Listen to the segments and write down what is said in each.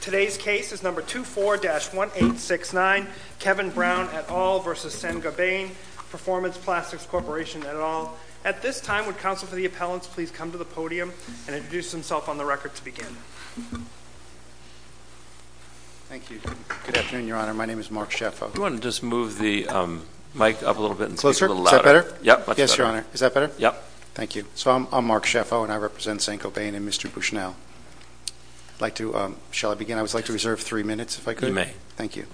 Today's case is No. 24-1869, Kevin Brown et al. v. Saint-Gobain Performance Plastics Corporation et al. At this time, would counsel for the appellants please come to the podium and introduce themselves on the record to begin? Thank you. Good afternoon, Your Honor. My name is Mark Shefo. Do you want to just move the mic up a little bit and speak a little louder? Is that better? Yes, much better. Yes, Your Honor. Is that better? Yes. Thank you. So, I'm Mark Shefo, and I represent Saint-Gobain and Mr. Bushnell. Shall I begin? I would like to reserve three minutes, if I could. Thank you.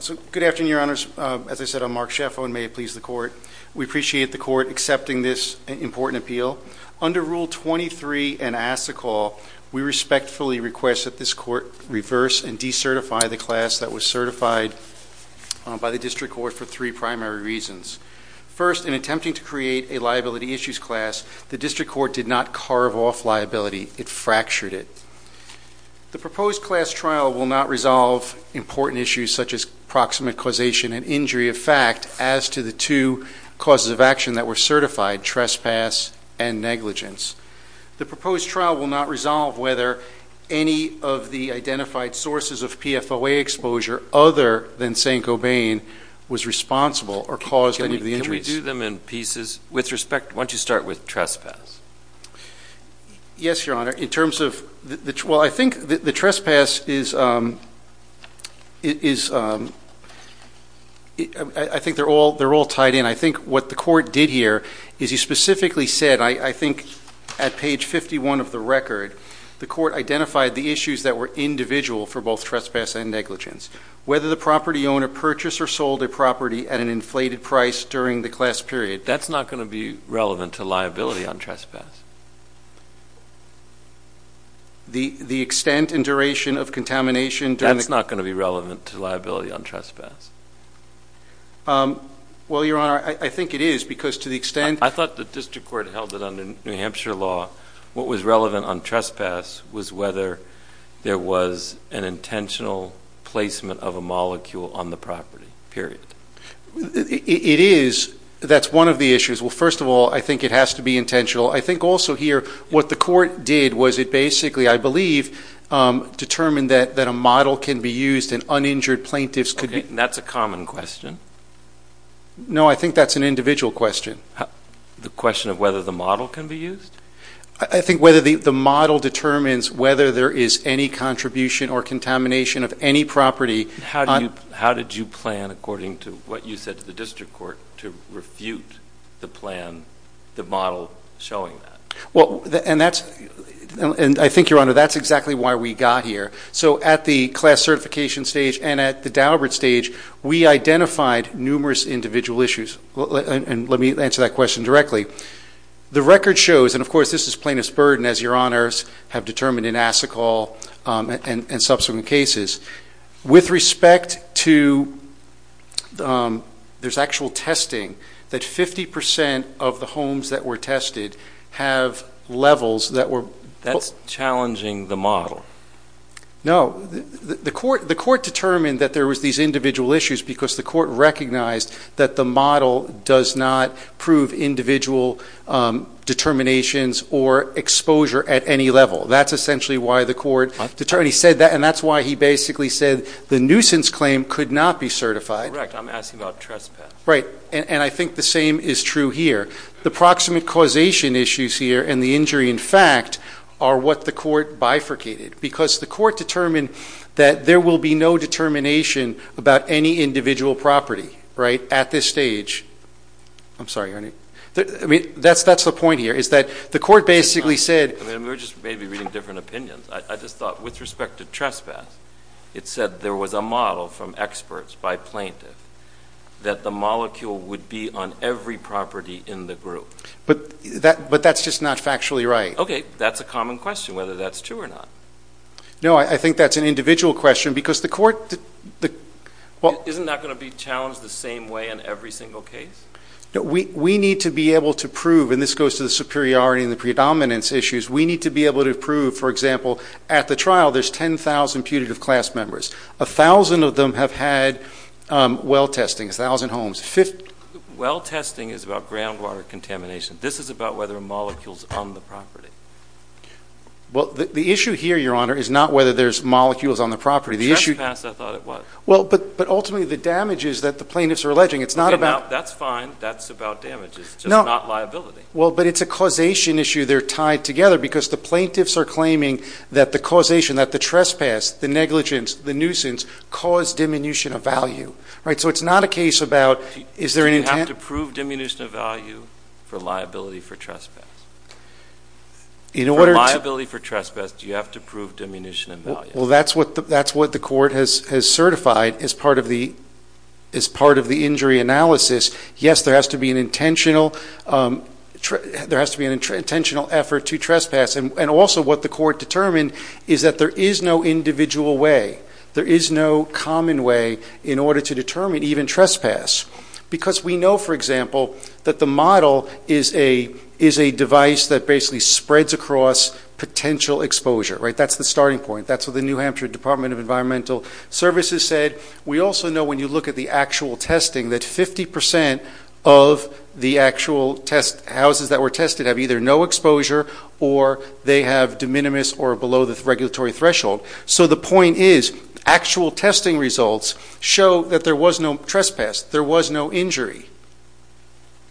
So, good afternoon, Your Honors. As I said, I'm Mark Shefo, and may it please the Court, we appreciate the Court accepting this important appeal. Under Rule 23 in ASICOL, we respectfully request that this Court reverse and decertify the class that was certified by the District Court for three primary reasons. First, in attempting to create a liability issues class, the District Court did not carve off liability. It fractured it. The proposed class trial will not resolve important issues such as proximate causation and injury of fact as to the two causes of action that were certified, trespass and negligence. The proposed trial will not resolve whether any of the identified sources of PFOA exposure other than Saint-Gobain was responsible or caused any of the injuries. Can we do them in pieces? With respect, why don't you start with trespass? Yes, Your Honor. In terms of, well, I think the trespass is, I think they're all tied in. I think what the Court did here is he specifically said, I think at page 51 of the record, the Court identified the issues that were individual for both trespass and negligence. Whether the property owner purchased or sold a property at an inflated price during the class period. That's not going to be relevant to liability on trespass. The extent and duration of contamination during the class period. That's not going to be relevant to liability on trespass. Well, Your Honor, I think it is because to the extent. I thought the District Court held it under New Hampshire law. What was relevant on trespass was whether there was an intentional placement of a molecule on the property, period. It is. That's one of the issues. Well, first of all, I think it has to be intentional. I think also here, what the Court did was it basically, I believe, determined that a model can be used and uninjured plaintiffs could be. That's a common question. No, I think that's an individual question. The question of whether the model can be used? I think whether the model determines whether there is any contribution or contamination of any property. How did you plan, according to what you said to the District Court, to refute the plan, the model showing that? I think, Your Honor, that's exactly why we got here. At the class certification stage and at the Daubert stage, we identified numerous individual issues. Let me answer that question directly. The record shows, and of course this is plaintiff's burden as Your Honors have determined in respect to there's actual testing, that 50% of the homes that were tested have levels that were That's challenging the model. No. The Court determined that there was these individual issues because the Court recognized that the model does not prove individual determinations or exposure at any level. That's essentially why the Court determined. And that's why he basically said the nuisance claim could not be certified. Correct. I'm asking about trespass. Right. And I think the same is true here. The proximate causation issues here and the injury in fact are what the Court bifurcated because the Court determined that there will be no determination about any individual property at this stage. I'm sorry, Your Honor. That's the point here is that the Court basically said We're just maybe reading different opinions. I just thought with respect to trespass, it said there was a model from experts by plaintiff that the molecule would be on every property in the group. But that's just not factually right. Okay. That's a common question whether that's true or not. No, I think that's an individual question because the Court Isn't that going to be challenged the same way in every single case? We need to be able to prove, and this goes to the superiority and the predominance issues, we need to be able to prove, for example, at the trial there's 10,000 putative class members. 1,000 of them have had well testing, 1,000 homes. Well testing is about groundwater contamination. This is about whether molecules are on the property. Well, the issue here, Your Honor, is not whether there's molecules on the property. For trespass, I thought it was. Well, but ultimately the damage is that the plaintiffs are alleging. That's fine. That's about damage. It's just not liability. Well, but it's a causation issue they're tied together because the plaintiffs are claiming that the causation, that the trespass, the negligence, the nuisance, cause diminution of value. So it's not a case about is there an intent? Do you have to prove diminution of value for liability for trespass? In order to For liability for trespass, do you have to prove diminution of value? Well, that's what the Court has certified as part of the injury analysis. Yes, there has to be an intentional effort to trespass, and also what the Court determined is that there is no individual way. There is no common way in order to determine even trespass because we know, for example, that the model is a device that basically spreads across potential exposure. That's the starting point. That's what the New Hampshire Department of Environmental Services said. We also know when you look at the actual testing that 50% of the actual houses that were tested have either no exposure or they have de minimis or below the regulatory threshold. So the point is actual testing results show that there was no trespass. There was no injury.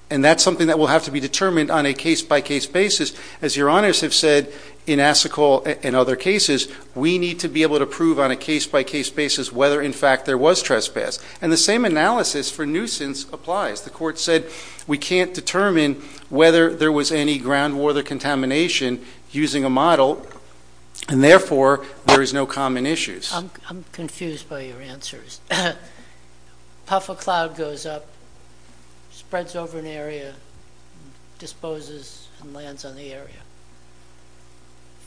And that's something that will have to be determined on a case-by-case basis. As your honors have said in Assicole and other cases, we need to be able to prove on a case-by-case basis whether, in fact, there was trespass. And the same analysis for nuisance applies. The Court said we can't determine whether there was any groundwater contamination using a model, and therefore there is no common issues. I'm confused by your answers. Puffer cloud goes up, spreads over an area, disposes, and lands on the area.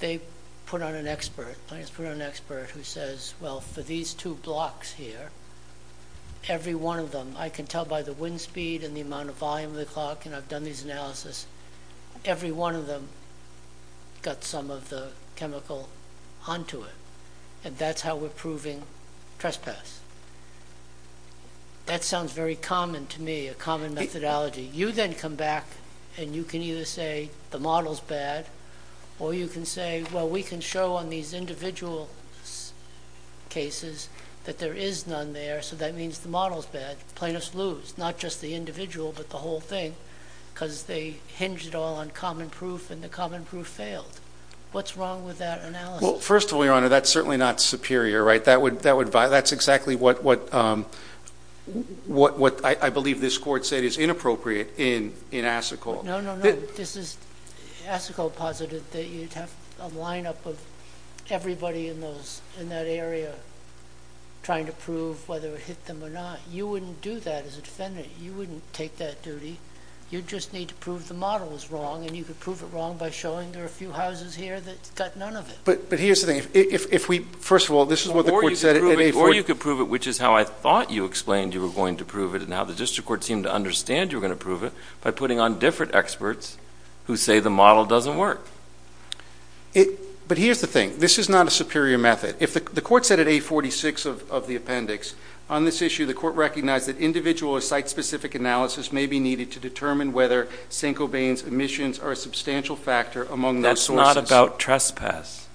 They put on an expert who says, well, for these two blocks here, every one of them, I can tell by the wind speed and the amount of volume of the clock, and I've done these analysis, every one of them got some of the chemical onto it. And that's how we're proving trespass. That sounds very common to me, a common methodology. You then come back, and you can either say the model's bad, or you can say, well, we can show on these individual cases that there is none there, so that means the model's bad. Plaintiffs lose, not just the individual but the whole thing, because they hinge it all on common proof, and the common proof failed. What's wrong with that analysis? Well, first of all, your honor, that's certainly not superior, right? That's exactly what I believe this court said is inappropriate in Asseco. No, no, no. Asseco posited that you'd have a lineup of everybody in that area trying to prove whether it hit them or not. You wouldn't do that as a defendant. You wouldn't take that duty. You'd just need to prove the model was wrong, and you could prove it wrong by showing there are a few houses here that got none of it. But here's the thing. First of all, this is what the court said. Or you could prove it, which is how I thought you explained you were going to prove it and how the district court seemed to understand you were going to prove it, by putting on different experts who say the model doesn't work. But here's the thing. This is not a superior method. The court said at A46 of the appendix, on this issue the court recognized that individual or site-specific analysis may be needed to determine whether Saint-Cobain's emissions are a substantial factor among those sources. But it's not about trespass.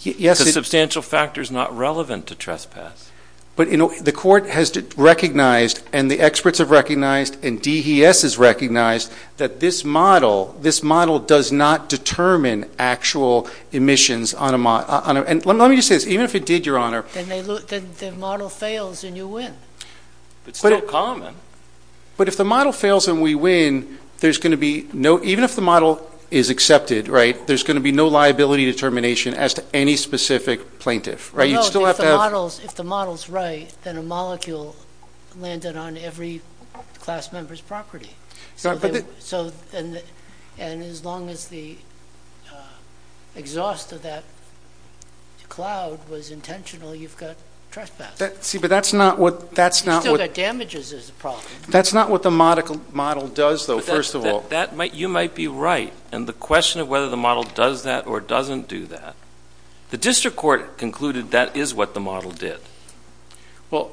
Yes. Because substantial factor is not relevant to trespass. But the court has recognized, and the experts have recognized, and DES has recognized that this model does not determine actual emissions on a model. And let me just say this. Even if it did, Your Honor. Then the model fails and you win. It's still common. But if the model fails and we win, even if the model is accepted, right, there's going to be no liability determination as to any specific plaintiff. No, if the model is right, then a molecule landed on every class member's property. And as long as the exhaust of that cloud was intentional, you've got trespass. See, but that's not what the model does, though. You might be right. And the question of whether the model does that or doesn't do that, the district court concluded that is what the model did. Well,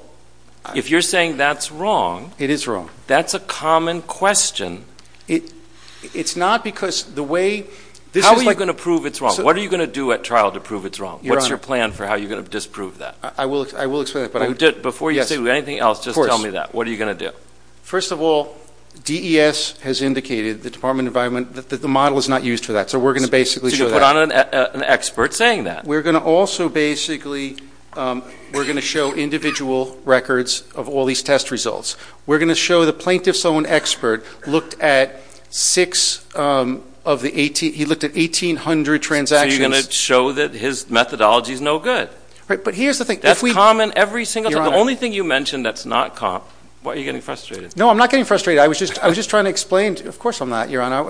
if you're saying that's wrong. It is wrong. That's a common question. It's not because the way this is like... How are you going to prove it's wrong? What are you going to do at trial to prove it's wrong? What's your plan for how you're going to disprove that? I will explain that. Before you say anything else, just tell me that. What are you going to do? First of all, DES has indicated, the Department of Environment, that the model is not used for that. So we're going to basically show that. So you're going to put on an expert saying that. We're going to also basically show individual records of all these test results. We're going to show the plaintiff's own expert looked at six of the 18... He looked at 1,800 transactions. So you're going to show that his methodology is no good. But here's the thing... That's common every single time. The only thing you mentioned that's not comp... Why are you getting frustrated? No, I'm not getting frustrated. I was just trying to explain... Of course I'm not, Your Honor. I'm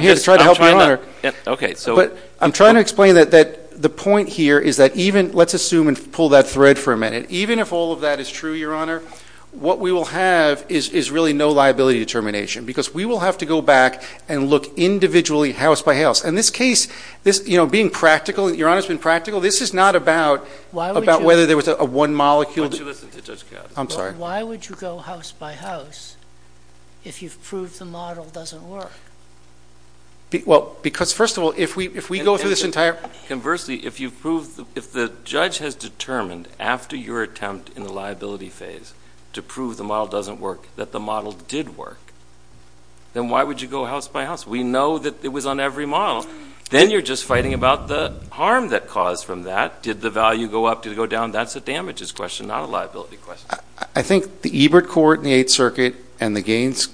here to try to help you, Your Honor. I'm trying to explain that the point here is that even... Let's assume and pull that thread for a minute. Even if all of that is true, Your Honor, what we will have is really no liability determination because we will have to go back and look individually house by house. In this case, being practical... Your Honor has been practical. This is not about whether there was one molecule... Why would you listen to Judge Katz? I'm sorry. Why would you go house by house if you've proved the model doesn't work? Well, because, first of all, if we go through this entire... Conversely, if you've proved... If the judge has determined after your attempt in the liability phase to prove the model doesn't work that the model did work, then why would you go house by house? We know that it was on every model. Then you're just fighting about the harm that caused from that. Did the value go up? Did it go down? That's a damages question, not a liability question. I think the Ebert Court in the Eighth Circuit and the Gates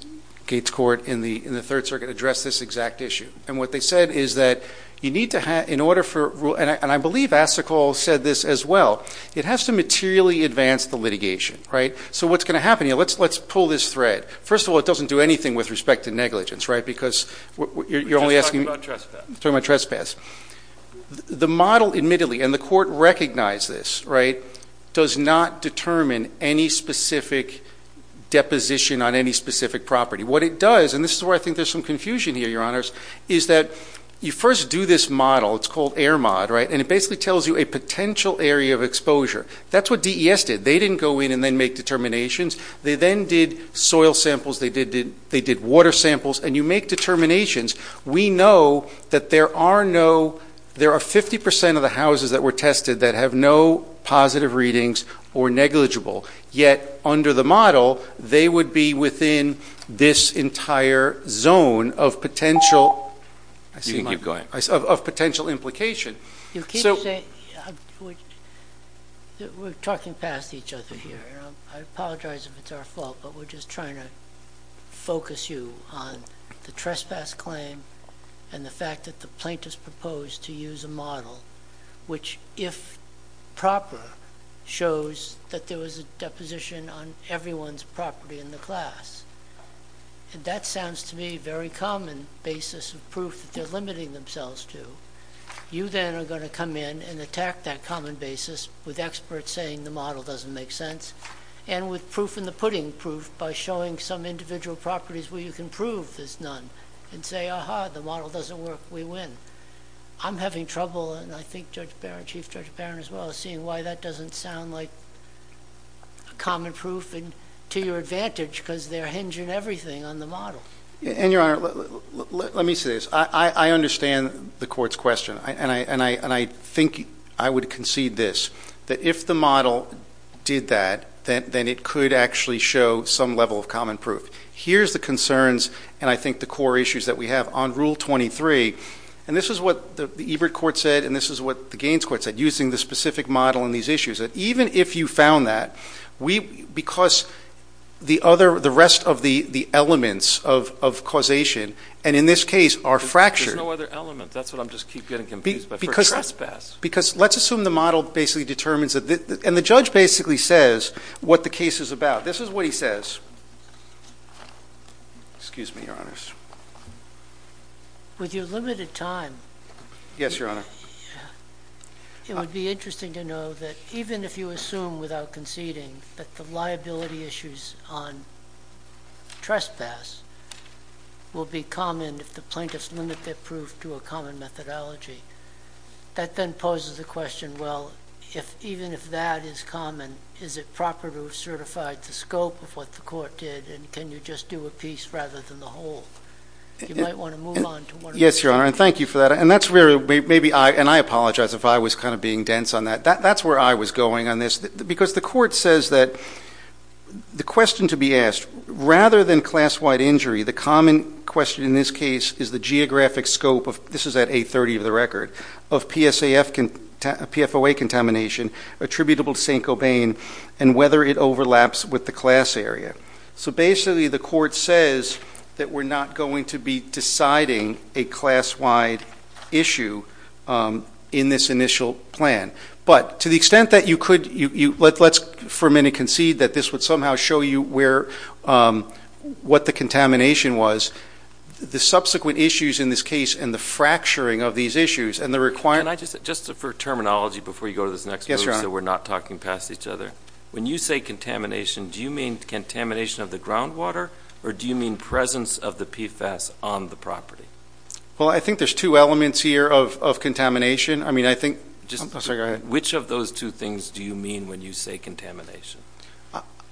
Court in the Third Circuit addressed this exact issue. And what they said is that you need to have, in order for... And I believe Asikol said this as well. It has to materially advance the litigation, right? So what's going to happen? Let's pull this thread. First of all, it doesn't do anything with respect to negligence, right? You're only asking me... We're just talking about trespass. We're talking about trespass. The model, admittedly, and the court recognized this, right, does not determine any specific deposition on any specific property. What it does, and this is where I think there's some confusion here, Your Honors, is that you first do this model. It's called AIRMOD, right? And it basically tells you a potential area of exposure. That's what DES did. They didn't go in and then make determinations. They then did soil samples. They did water samples. And you make determinations. We know that there are no... There are 50% of the houses that were tested that have no positive readings or negligible. Yet, under the model, they would be within this entire zone of potential... You can keep going. Of potential implication. You keep saying... We're talking past each other here. I apologize if it's our fault, but we're just trying to focus you on the trespass claim and the fact that the plaintiffs proposed to use a model which, if proper, shows that there was a deposition on everyone's property in the class. That sounds to me a very common basis of proof that they're limiting themselves to. You then are going to come in and attack that common basis with experts saying the model doesn't make sense and with proof in the pudding proof by showing some individual properties where you can prove there's none and say, aha, the model doesn't work, we win. I'm having trouble, and I think Judge Barron, Chief Judge Barron as well, seeing why that doesn't sound like a common proof to your advantage because they're hinging everything on the model. And, Your Honor, let me say this. I understand the Court's question, and I think I would concede this, that if the model did that, then it could actually show some level of common proof. Here's the concerns and I think the core issues that we have on Rule 23, and this is what the Ebert Court said and this is what the Gaines Court said, using the specific model in these issues, that even if you found that, because the rest of the elements of causation, and in this case are fractured. There's no other element. That's what I just keep getting confused by, for trespass. Because let's assume the model basically determines, and the judge basically says what the case is about. This is what he says. Excuse me, Your Honors. With your limited time. Yes, Your Honor. It would be interesting to know that even if you assume without conceding that the liability issues on trespass will be common if the plaintiffs limit their proof to a common methodology, that then poses the question, well, even if that is common, is it proper to have certified the scope of what the Court did, and can you just do a piece rather than the whole? You might want to move on to one of those. Yes, Your Honor, and thank you for that. And I apologize if I was kind of being dense on that. That's where I was going on this, because the Court says that the question to be asked, rather than class-wide injury, the common question in this case is the geographic scope of, this is at 830 of the record, of PFOA contamination attributable to St. Cobain and whether it overlaps with the class area. So basically the Court says that we're not going to be deciding a class-wide issue in this initial plan. But to the extent that you could, let's for a minute concede that this would somehow show you where, what the contamination was, the subsequent issues in this case and the fracturing of these issues and the requirement. Can I just, just for terminology before you go to this next move, so we're not talking past each other, when you say contamination, do you mean contamination of the groundwater, or do you mean presence of the PFAS on the property? Well, I think there's two elements here of contamination. I mean, I think. Which of those two things do you mean when you say contamination?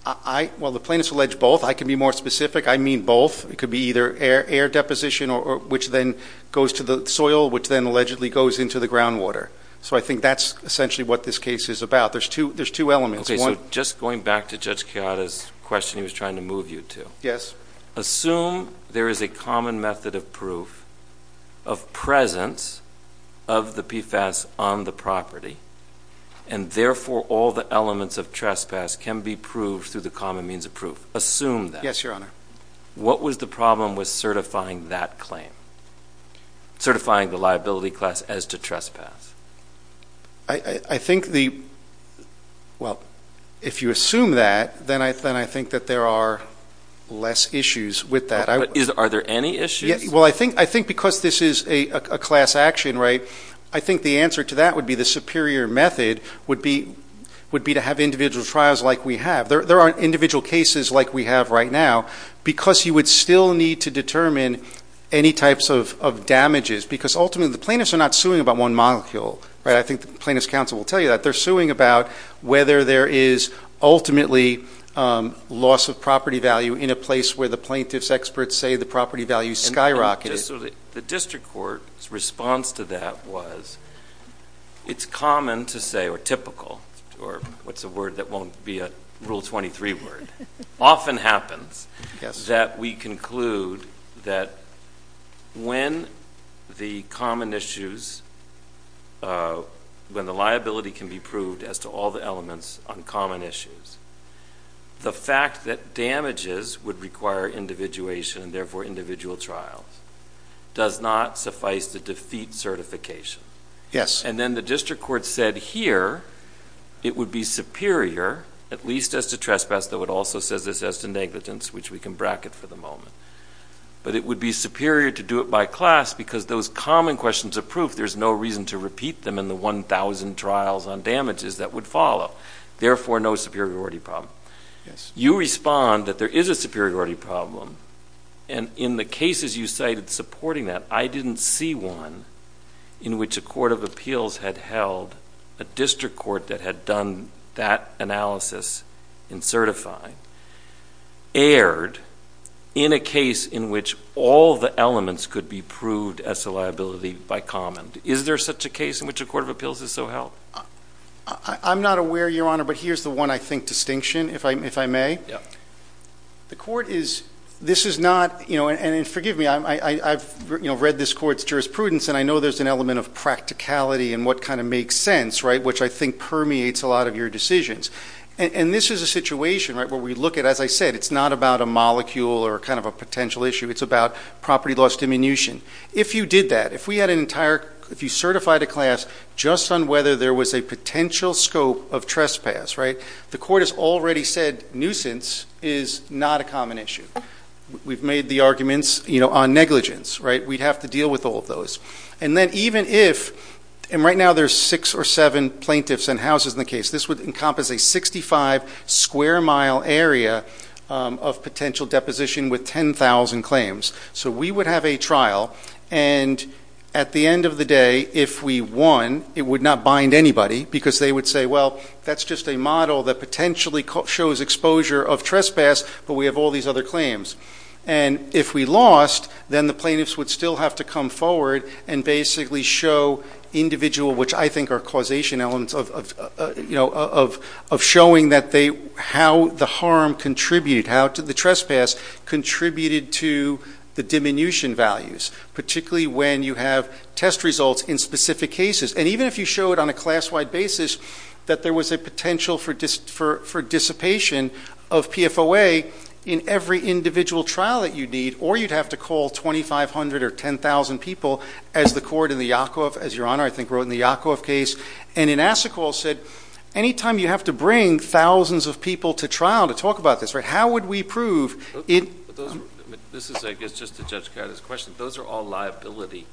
Well, the plaintiffs allege both. I can be more specific. I mean both. It could be either air deposition, which then goes to the soil, which then allegedly goes into the groundwater. So I think that's essentially what this case is about. There's two elements. Okay. So just going back to Judge Chiara's question he was trying to move you to. Yes. Assume there is a common method of proof of presence of the PFAS on the common means of proof. Assume that. Yes, Your Honor. What was the problem with certifying that claim, certifying the liability class as to trespass? I think the, well, if you assume that, then I think that there are less issues with that. Are there any issues? Well, I think because this is a class action, right, I think the answer to that would be the superior method would be to have individual trials like we have. There are individual cases like we have right now, because you would still need to determine any types of damages, because ultimately the plaintiffs are not suing about one molecule, right? I think the plaintiff's counsel will tell you that. They're suing about whether there is ultimately loss of property value in a place where the plaintiff's experts say the property value skyrocketed. The district court's response to that was it's common to say, or typical, or what's a word that won't be a Rule 23 word, often happens that we conclude that when the common issues, when the liability can be proved as to all the elements on common issues, the fact that damages would require individuation and therefore individual trials does not suffice to defeat certification. Yes. And then the district court said here it would be superior, at least as to trespass, though it also says this as to negligence, which we can bracket for the moment. But it would be superior to do it by class, because those common questions of proof, there's no reason to repeat them in the 1,000 trials on damages that would follow, therefore no superiority problem. Yes. You respond that there is a superiority problem, and in the cases you cited supporting that, I didn't see one in which a court of appeals had held, a district court that had done that analysis in certifying, erred in a case in which all the elements could be proved as to liability by common. Is there such a case in which a court of appeals has so held? I'm not aware, Your Honor, but here's the one I think distinction, if I may. Yes. The court is, this is not, and forgive me, I've read this court's jurisprudence and I know there's an element of practicality and what kind of makes sense, right, which I think permeates a lot of your decisions. And this is a situation, right, where we look at, as I said, it's not about a molecule or kind of a potential issue, it's about property loss diminution. If you did that, if we had an entire, if you certified a class just on whether there was a potential scope of trespass, right, the court has already said nuisance is not a common issue. We've made the arguments, you know, on negligence, right, we'd have to deal with all of those. And then even if, and right now there's six or seven plaintiffs and houses in the case, this would encompass a 65 square mile area of potential deposition with 10,000 claims. So we would have a trial and at the end of the day, if we won, it would not bind anybody because they would say, well, that's just a model that potentially shows exposure of trespass, but we have all these other claims. And if we lost, then the plaintiffs would still have to come forward and basically show individual, which I think are causation elements of, you know, of showing that they, how the harm contributed, how the trespass contributed to the diminution values, particularly when you have test results in specific cases. And even if you show it on a class-wide basis, that there was a potential for dissipation of PFOA in every individual trial that you need, or you'd have to call 2,500 or 10,000 people, as the court in the Yakov, as your Honor, I think, wrote in the Yakov case. And in Asikol said, anytime you have to bring thousands of people to trial to talk about this, right, how would we prove it? This is, I guess, just to judge Carter's question. Those are all liability.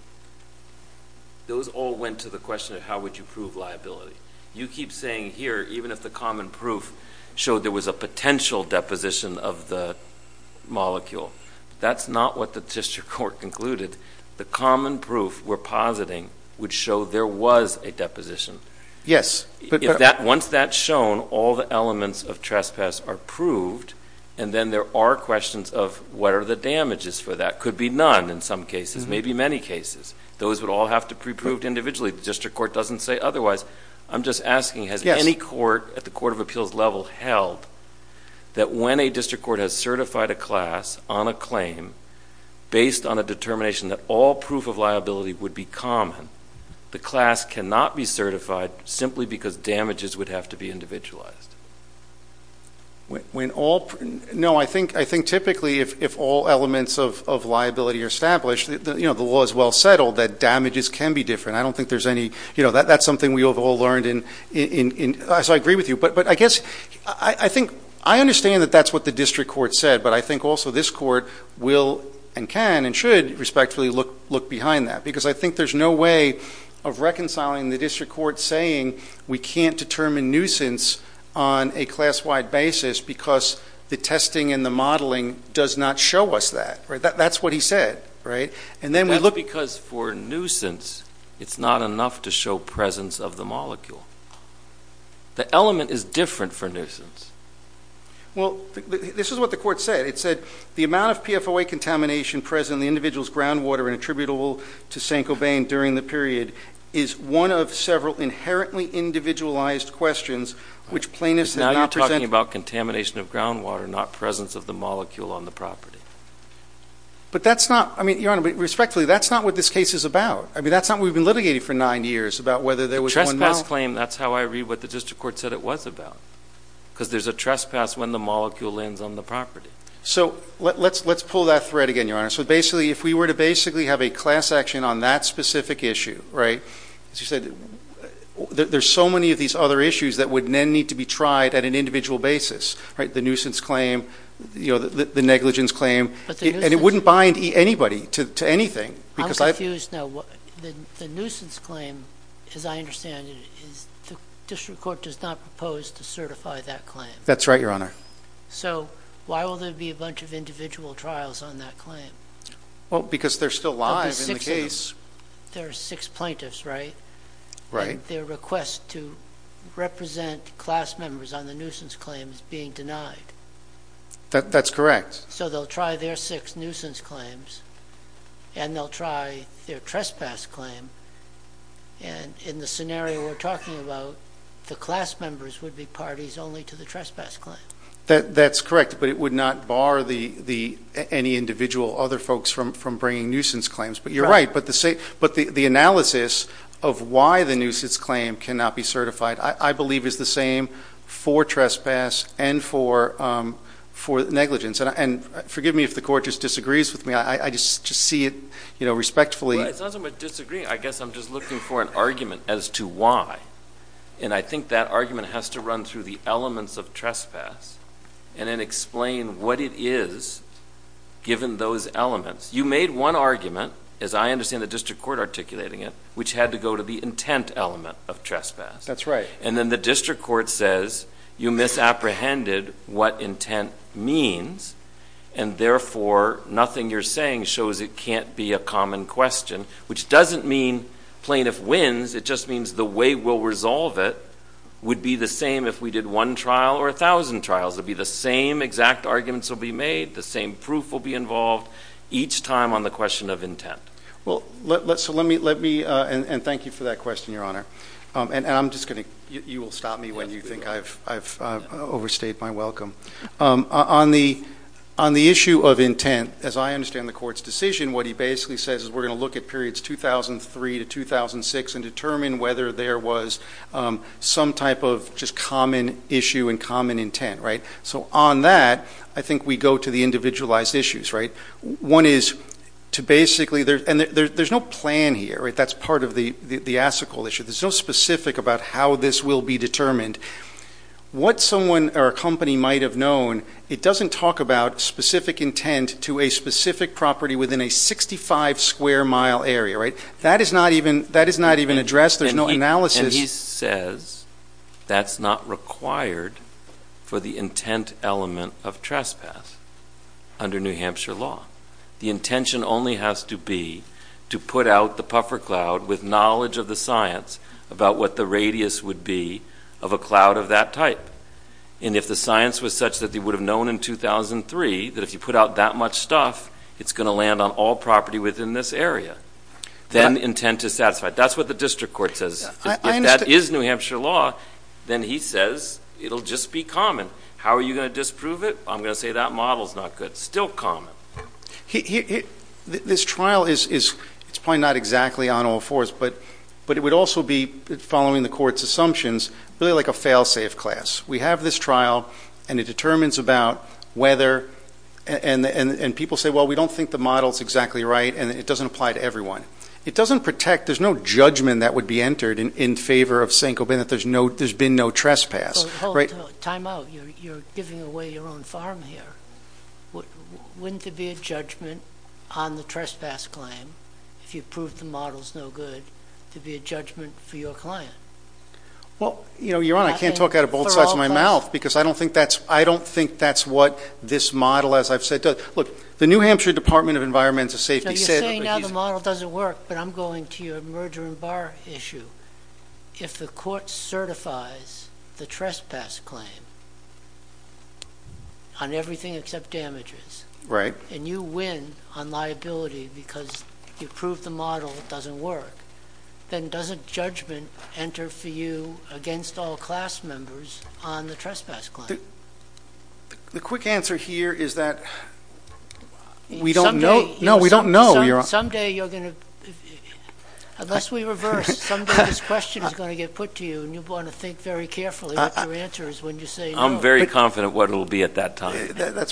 Those all went to the question of how would you prove liability. You keep saying here, even if the common proof showed there was a potential deposition of the molecule, that's not what the district court concluded. The common proof we're positing would show there was a deposition. Yes. Once that's shown, all the elements of trespass are proved, and then there are questions of what are the damages for that. That could be none in some cases, maybe many cases. Those would all have to be proved individually. The district court doesn't say otherwise. I'm just asking, has any court at the court of appeals level held that when a district court has certified a class on a claim based on a determination that all proof of liability would be common, the class cannot be certified simply because damages would have to be individualized? No. I think typically if all elements of liability are established, the law is well settled that damages can be different. I don't think there's any... That's something we've all learned, so I agree with you. But I think I understand that that's what the district court said, but I think also this court will and can and should respectfully look behind that because I think there's no way of reconciling the district court saying we can't determine nuisance on a class-wide basis because the testing and the modeling does not show us that. That's what he said, right? That's because for nuisance it's not enough to show presence of the molecule. The element is different for nuisance. Well, this is what the court said. It said the amount of PFOA contamination present in the individual's groundwater and attributable to Saint-Cobain during the period is one of several inherently individualized questions which plaintiffs have not presented. Now you're talking about contamination of groundwater, not presence of the molecule on the property. But that's not... I mean, Your Honor, but respectfully, that's not what this case is about. I mean, that's not what we've been litigating for nine years, about whether there was one now. The trespass claim, that's how I read what the district court said it was about because there's a trespass when the molecule lands on the property. So let's pull that thread again, Your Honor. So basically, if we were to basically have a class action on that specific issue, right, as you said, there's so many of these other issues that would then need to be tried at an individual basis, right? The nuisance claim, the negligence claim, and it wouldn't bind anybody to anything. I'm confused now. The nuisance claim, as I understand it, the district court does not propose to certify that claim. That's right, Your Honor. So why will there be a bunch of individual trials on that claim? Well, because there's still lobbyists in the case. There are six plaintiffs, right? Right. Their request to represent class members on the nuisance claim is being denied. That's correct. So they'll try their six nuisance claims, and they'll try their trespass claim, and in the scenario we're talking about, the class members would be parties only to the trespass claim. That's correct, but it would not bar any individual, other folks, from bringing nuisance claims. But you're right. But the analysis of why the nuisance claim cannot be certified, I believe, is the same for trespass and for negligence. And forgive me if the Court just disagrees with me. I just see it, you know, respectfully. Well, it's not that I'm disagreeing. I guess I'm just looking for an argument as to why. And I think that argument has to run through the elements of trespass and then explain what it is, given those elements. You made one argument, as I understand the district court articulating it, which had to go to the intent element of trespass. That's right. And then the district court says you misapprehended what intent means, and therefore nothing you're saying shows it can't be a common question, which doesn't mean plaintiff wins. It just means the way we'll resolve it would be the same if we did one trial or a thousand trials. It would be the same exact arguments will be made. The same proof will be involved each time on the question of intent. So let me – and thank you for that question, Your Honor. And I'm just going to – you will stop me when you think I've overstayed my welcome. On the issue of intent, as I understand the Court's decision, what he basically says is we're going to look at periods 2003 to 2006 and determine whether there was some type of just common issue and common intent, right? So on that, I think we go to the individualized issues, right? One is to basically – and there's no plan here, right? That's part of the ASICOL issue. There's no specific about how this will be determined. What someone or a company might have known, it doesn't talk about specific intent to a specific property within a 65-square-mile area, right? That is not even addressed. There's no analysis. And he says that's not required for the intent element of trespass under New Hampshire law. The intention only has to be to put out the puffer cloud with knowledge of the science about what the radius would be of a cloud of that type. And if the science was such that they would have known in 2003 that if you put out that much stuff, it's going to land on all property within this area, then intent is satisfied. That's what the district court says. If that is New Hampshire law, then he says it will just be common. How are you going to disprove it? I'm going to say that model is not good. It's still common. This trial is probably not exactly on all fours, but it would also be, following the court's assumptions, really like a fail-safe class. We have this trial, and it determines about whether – and people say, well, we don't think the model is exactly right, and it doesn't apply to everyone. It doesn't protect – there's no judgment that would be entered in favor of saying there's been no trespass. Time out. You're giving away your own farm here. Wouldn't there be a judgment on the trespass claim, if you proved the model is no good, to be a judgment for your client? Your Honor, I can't talk out of both sides of my mouth because I don't think that's what this model, as I've said, does. Look, the New Hampshire Department of Environmental Safety said – well, the model doesn't work, but I'm going to your merger and bar issue. If the court certifies the trespass claim on everything except damages, and you win on liability because you proved the model doesn't work, then doesn't judgment enter for you against all class members on the trespass claim? The quick answer here is that we don't know. Someday you're going to – unless we reverse, someday this question is going to get put to you, and you'll want to think very carefully what your answer is when you say no. I'm very confident what it will be at that time.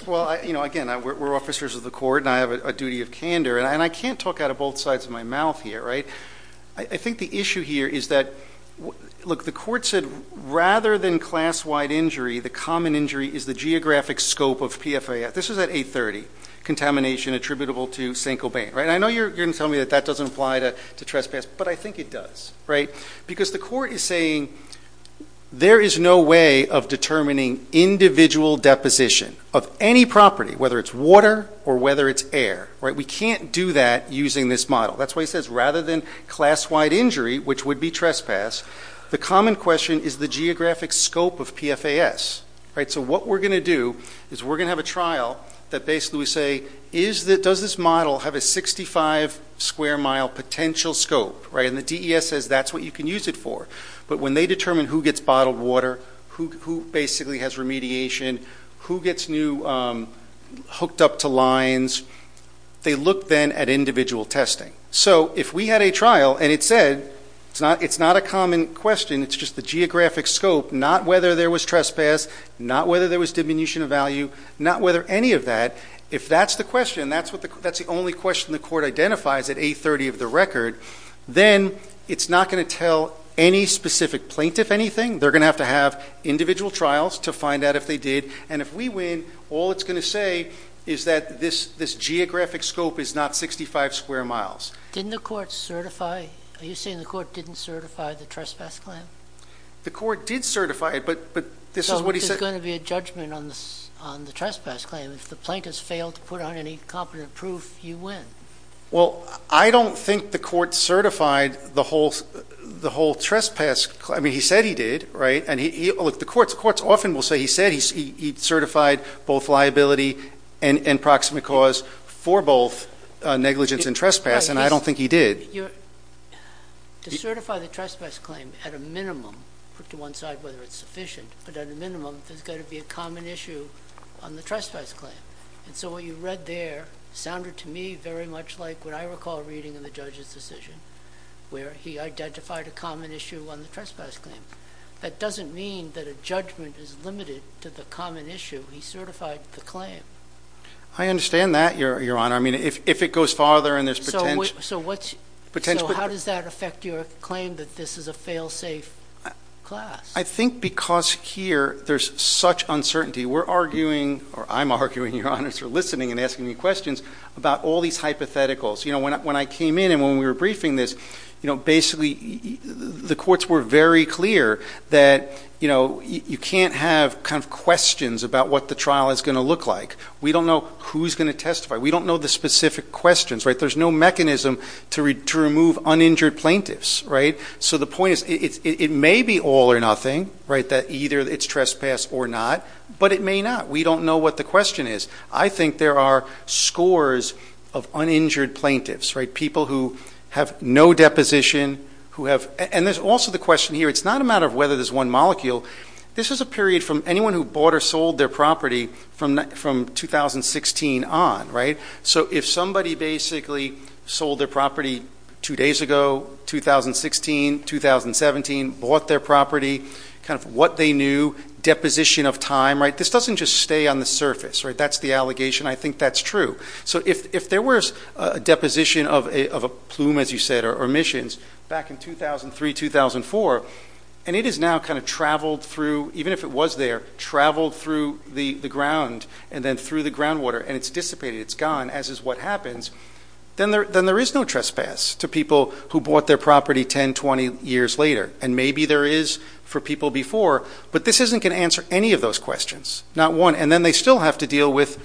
Well, again, we're officers of the court, and I have a duty of candor, and I can't talk out of both sides of my mouth here, right? I think the issue here is that, look, the court said rather than class-wide injury, the common injury is the geographic scope of PFAS. This was at 830, contamination attributable to Saint-Cobain, right? And I know you're going to tell me that that doesn't apply to trespass, but I think it does, right? Because the court is saying there is no way of determining individual deposition of any property, whether it's water or whether it's air, right? We can't do that using this model. That's why it says rather than class-wide injury, which would be trespass, the common question is the geographic scope of PFAS, right? So what we're going to do is we're going to have a trial that basically we say, does this model have a 65-square-mile potential scope, right? And the DES says that's what you can use it for. But when they determine who gets bottled water, who basically has remediation, who gets new hooked up to lines, they look then at individual testing. So if we had a trial and it said it's not a common question, it's just the geographic scope, not whether there was trespass, not whether there was diminution of value, not whether any of that, if that's the question, that's the only question the court identifies at 830 of the record, then it's not going to tell any specific plaintiff anything. They're going to have to have individual trials to find out if they did. And if we win, all it's going to say is that this geographic scope is not 65 square miles. Didn't the court certify? Are you saying the court didn't certify the trespass claim? The court did certify it, but this is what he said. So there's going to be a judgment on the trespass claim. If the plaintiffs fail to put on any competent proof, you win. Well, I don't think the court certified the whole trespass claim. I mean, he said he did, right? Look, the courts often will say he said he certified both liability and proximate cause for both negligence and trespass, and I don't think he did. To certify the trespass claim at a minimum, put to one side whether it's sufficient, but at a minimum there's got to be a common issue on the trespass claim. And so what you read there sounded to me very much like what I recall reading in the judge's decision where he identified a common issue on the trespass claim. That doesn't mean that a judgment is limited to the common issue. He certified the claim. I understand that, Your Honor. I mean, if it goes farther and there's potential. So how does that affect your claim that this is a fail-safe class? I think because here there's such uncertainty. We're arguing, or I'm arguing, Your Honor, as you're listening and asking me questions, about all these hypotheticals. You know, when I came in and when we were briefing this, you know, basically the courts were very clear that, you know, you can't have kind of questions about what the trial is going to look like. We don't know who's going to testify. We don't know the specific questions, right? There's no mechanism to remove uninjured plaintiffs, right? So the point is it may be all or nothing, right, that either it's trespass or not, but it may not. We don't know what the question is. I think there are scores of uninjured plaintiffs, right, people who have no deposition, who have – and there's also the question here, it's not a matter of whether there's one molecule. This is a period from anyone who bought or sold their property from 2016 on, right? So if somebody basically sold their property two days ago, 2016, 2017, bought their property, kind of what they knew, deposition of time, right, this doesn't just stay on the surface, right? That's the allegation. I think that's true. So if there was a deposition of a plume, as you said, or emissions back in 2003, 2004, and it has now kind of traveled through, even if it was there, traveled through the ground and then through the groundwater and it's dissipated, it's gone, as is what happens, then there is no trespass to people who bought their property 10, 20 years later. And maybe there is for people before, but this isn't going to answer any of those questions, not one. And then they still have to deal with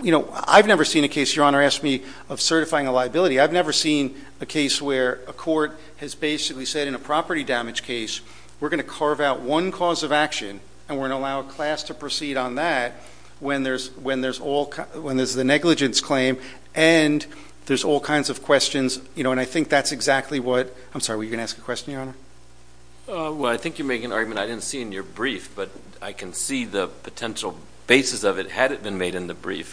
– I've never seen a case, Your Honor asked me, of certifying a liability. I've never seen a case where a court has basically said in a property damage case, we're going to carve out one cause of action and we're going to allow a class to proceed on that when there's the negligence claim and there's all kinds of questions. And I think that's exactly what – I'm sorry, were you going to ask a question, Your Honor? Well, I think you're making an argument I didn't see in your brief, but I can see the potential basis of it had it been made in the brief,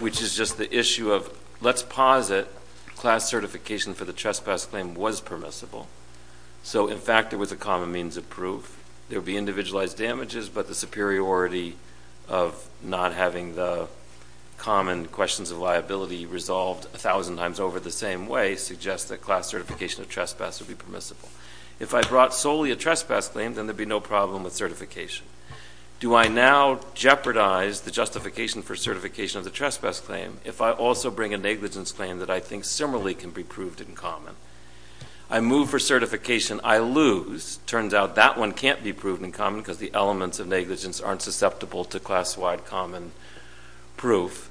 which is just the issue of let's posit class certification for the trespass claim was permissible. So, in fact, it was a common means of proof. There would be individualized damages, but the superiority of not having the common questions of liability resolved a thousand times over the same way suggests that class certification of trespass would be permissible. If I brought solely a trespass claim, then there'd be no problem with certification. Do I now jeopardize the justification for certification of the trespass claim if I also bring a negligence claim that I think similarly can be proved in common? I move for certification, I lose. It turns out that one can't be proved in common because the elements of negligence aren't susceptible to class-wide common proof.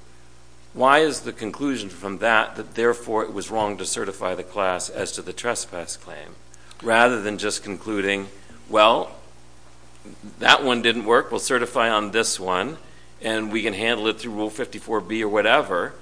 Why is the conclusion from that that therefore it was wrong to certify the class as to the trespass claim rather than just concluding, well, that one didn't work, we'll certify on this one, and we can handle it through Rule 54B or whatever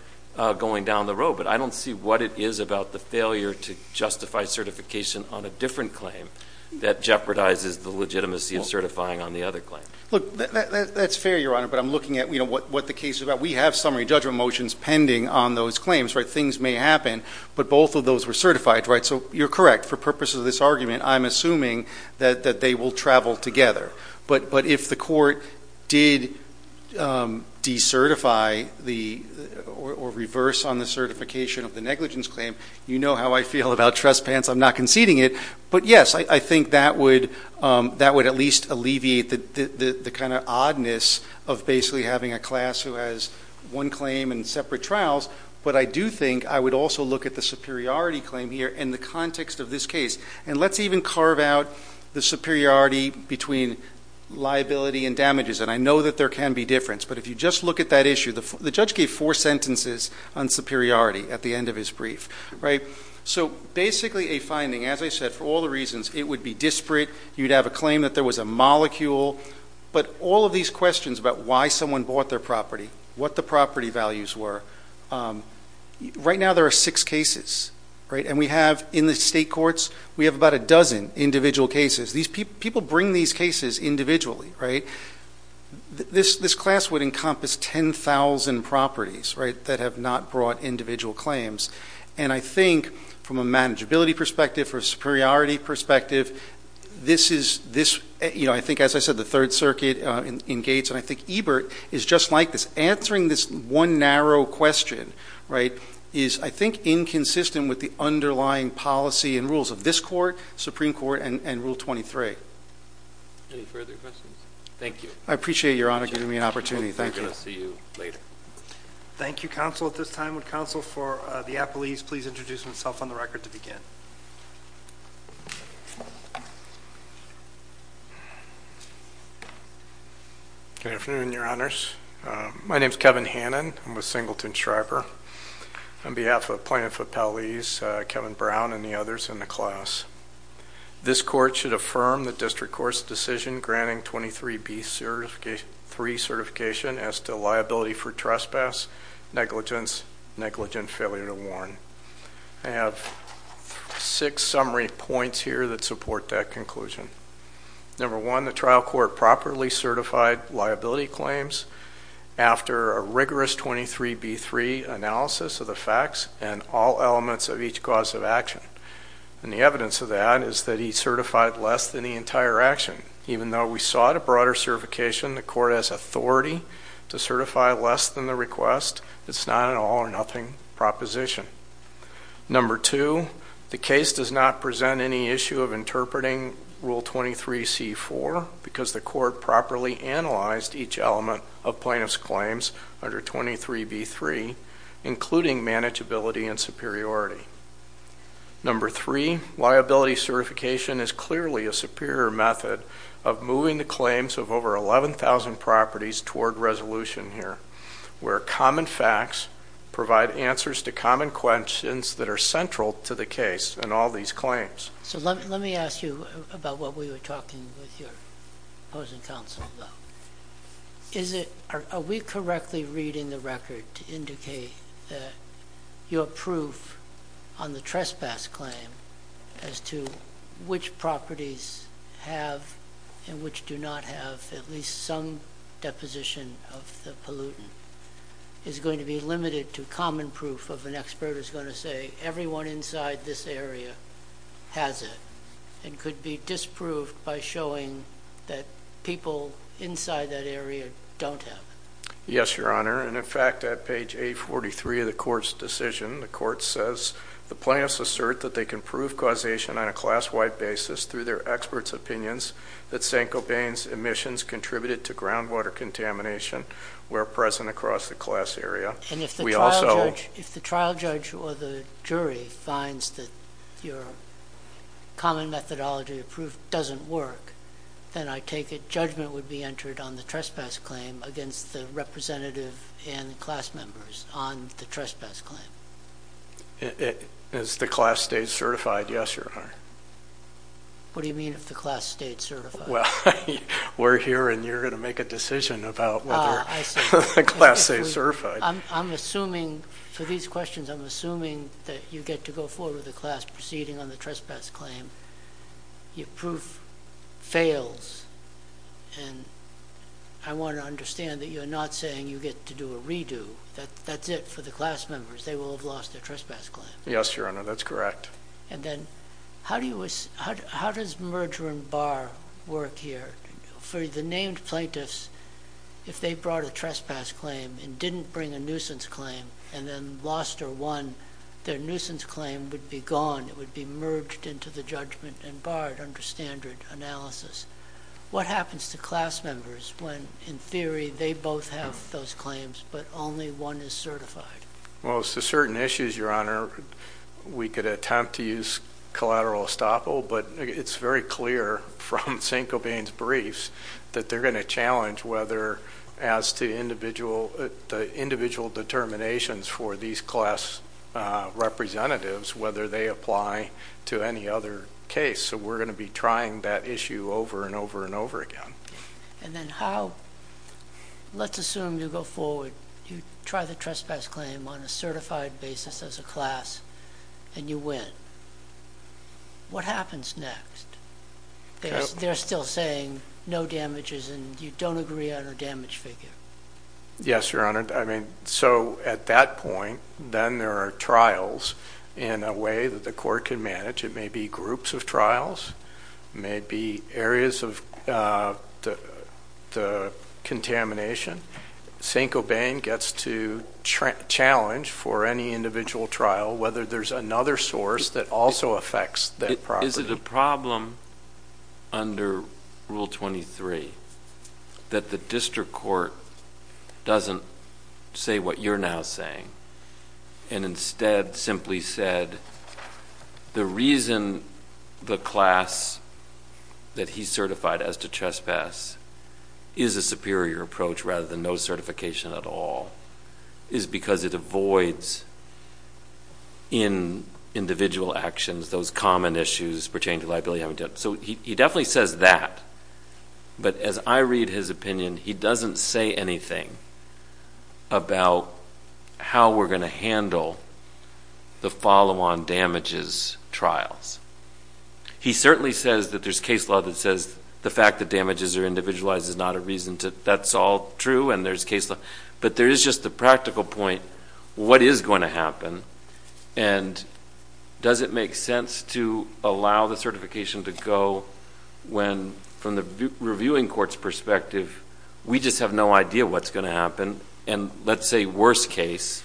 going down the road? But I don't see what it is about the failure to justify certification on a different claim that jeopardizes the legitimacy of certifying on the other claim. Look, that's fair, Your Honor, but I'm looking at what the case is about. We have summary judgment motions pending on those claims, right? Things may happen, but both of those were certified, right? So you're correct. For purposes of this argument, I'm assuming that they will travel together. But if the court did decertify or reverse on the certification of the negligence claim, you know how I feel about trespass. I'm not conceding it. But, yes, I think that would at least alleviate the kind of oddness of basically having a class who has one claim and separate trials. But I do think I would also look at the superiority claim here in the context of this case. And let's even carve out the superiority between liability and damages. And I know that there can be difference, but if you just look at that issue, the judge gave four sentences on superiority at the end of his brief, right? So basically a finding, as I said, for all the reasons it would be disparate, you'd have a claim that there was a molecule, but all of these questions about why someone bought their property, what the property values were, right now there are six cases, right? And we have in the state courts, we have about a dozen individual cases. People bring these cases individually, right? This class would encompass 10,000 properties, right, that have not brought individual claims. And I think from a manageability perspective or a superiority perspective, this is, you know, I think, as I said, the Third Circuit in Gates and I think Ebert is just like this. Answering this one narrow question, right, is I think inconsistent with the underlying policy and rules of this court, Supreme Court, and Rule 23. Any further questions? Thank you. I appreciate Your Honor giving me an opportunity. Thank you. We're going to see you later. Thank you, counsel, at this time. Would counsel for the appellees please introduce themselves on the record to begin? Good afternoon, Your Honors. My name is Kevin Hannon. I'm a singleton striper. On behalf of plaintiff appellees, Kevin Brown and the others in the class, this court should affirm the district court's decision granting 23B3 certification as to liability for trespass, negligence, negligent failure to warn. I have six summary points here that support that conclusion. Number one, the trial court properly certified liability claims after a rigorous 23B3 analysis of the facts and all elements of each cause of action. And the evidence of that is that he certified less than the entire action. Even though we sought a broader certification, the court has authority to certify less than the request. It's not an all or nothing proposition. Number two, the case does not present any issue of interpreting Rule 23C4 because the court properly analyzed each element of plaintiff's claims under 23B3, including manageability and superiority. Number three, liability certification is clearly a superior method of moving the claims of over 11,000 properties toward resolution here, where common facts provide answers to common questions that are central to the case in all these claims. So let me ask you about what we were talking with your opposing counsel about. Are we correctly reading the record to indicate that your proof on the trespass claim as to which properties have and which do not have at least some deposition of the pollutant is going to be limited to common proof of an expert who's going to say, everyone inside this area has it and could be disproved by showing that people inside that area don't have it? Yes, Your Honor. And, in fact, at page 843 of the court's decision, the court says the plaintiffs assert that they can prove causation on a class-wide basis through their experts' opinions that Saint-Gobain's emissions contributed to groundwater contamination where present across the class area. And if the trial judge or the jury finds that your common methodology of proof doesn't work, then I take it judgment would be entered on the trespass claim against the representative and the class members on the trespass claim? As the class stays certified, yes, Your Honor. What do you mean if the class stayed certified? Well, we're here and you're going to make a decision about whether the class stays certified. I'm assuming for these questions, I'm assuming that you get to go forward with the class proceeding on the trespass claim. Your proof fails, and I want to understand that you're not saying you get to do a redo. That's it for the class members. They will have lost their trespass claim. Yes, Your Honor, that's correct. And then how does merger and bar work here? For the named plaintiffs, if they brought a trespass claim and didn't bring a nuisance claim and then lost or won, their nuisance claim would be gone. It would be merged into the judgment and barred under standard analysis. What happens to class members when, in theory, they both have those claims but only one is certified? Well, it's the certain issues, Your Honor. We could attempt to use collateral estoppel, but it's very clear from St. Cobain's briefs that they're going to challenge whether, as to the individual determinations for these class representatives, whether they apply to any other case. So we're going to be trying that issue over and over and over again. Let's assume you go forward, you try the trespass claim on a certified basis as a class, and you win. What happens next? They're still saying no damages and you don't agree on a damage figure. Yes, Your Honor. So at that point, then there are trials in a way that the court can manage. It may be groups of trials. It may be areas of the contamination. St. Cobain gets to challenge for any individual trial whether there's another source that also affects that property. Is it a problem under Rule 23 that the district court doesn't say what you're now saying and instead simply said the reason the class that he certified as to trespass is a superior approach rather than no certification at all is because it avoids in individual actions those common issues pertaining to liability. So he definitely says that. But as I read his opinion, he doesn't say anything about how we're going to handle the follow-on damages trials. He certainly says that there's case law that says the fact that damages are individualized is not a reason. That's all true and there's case law. But there is just the practical point, what is going to happen, and does it make sense to allow the certification to go when from the reviewing court's perspective, we just have no idea what's going to happen, and let's say worst case,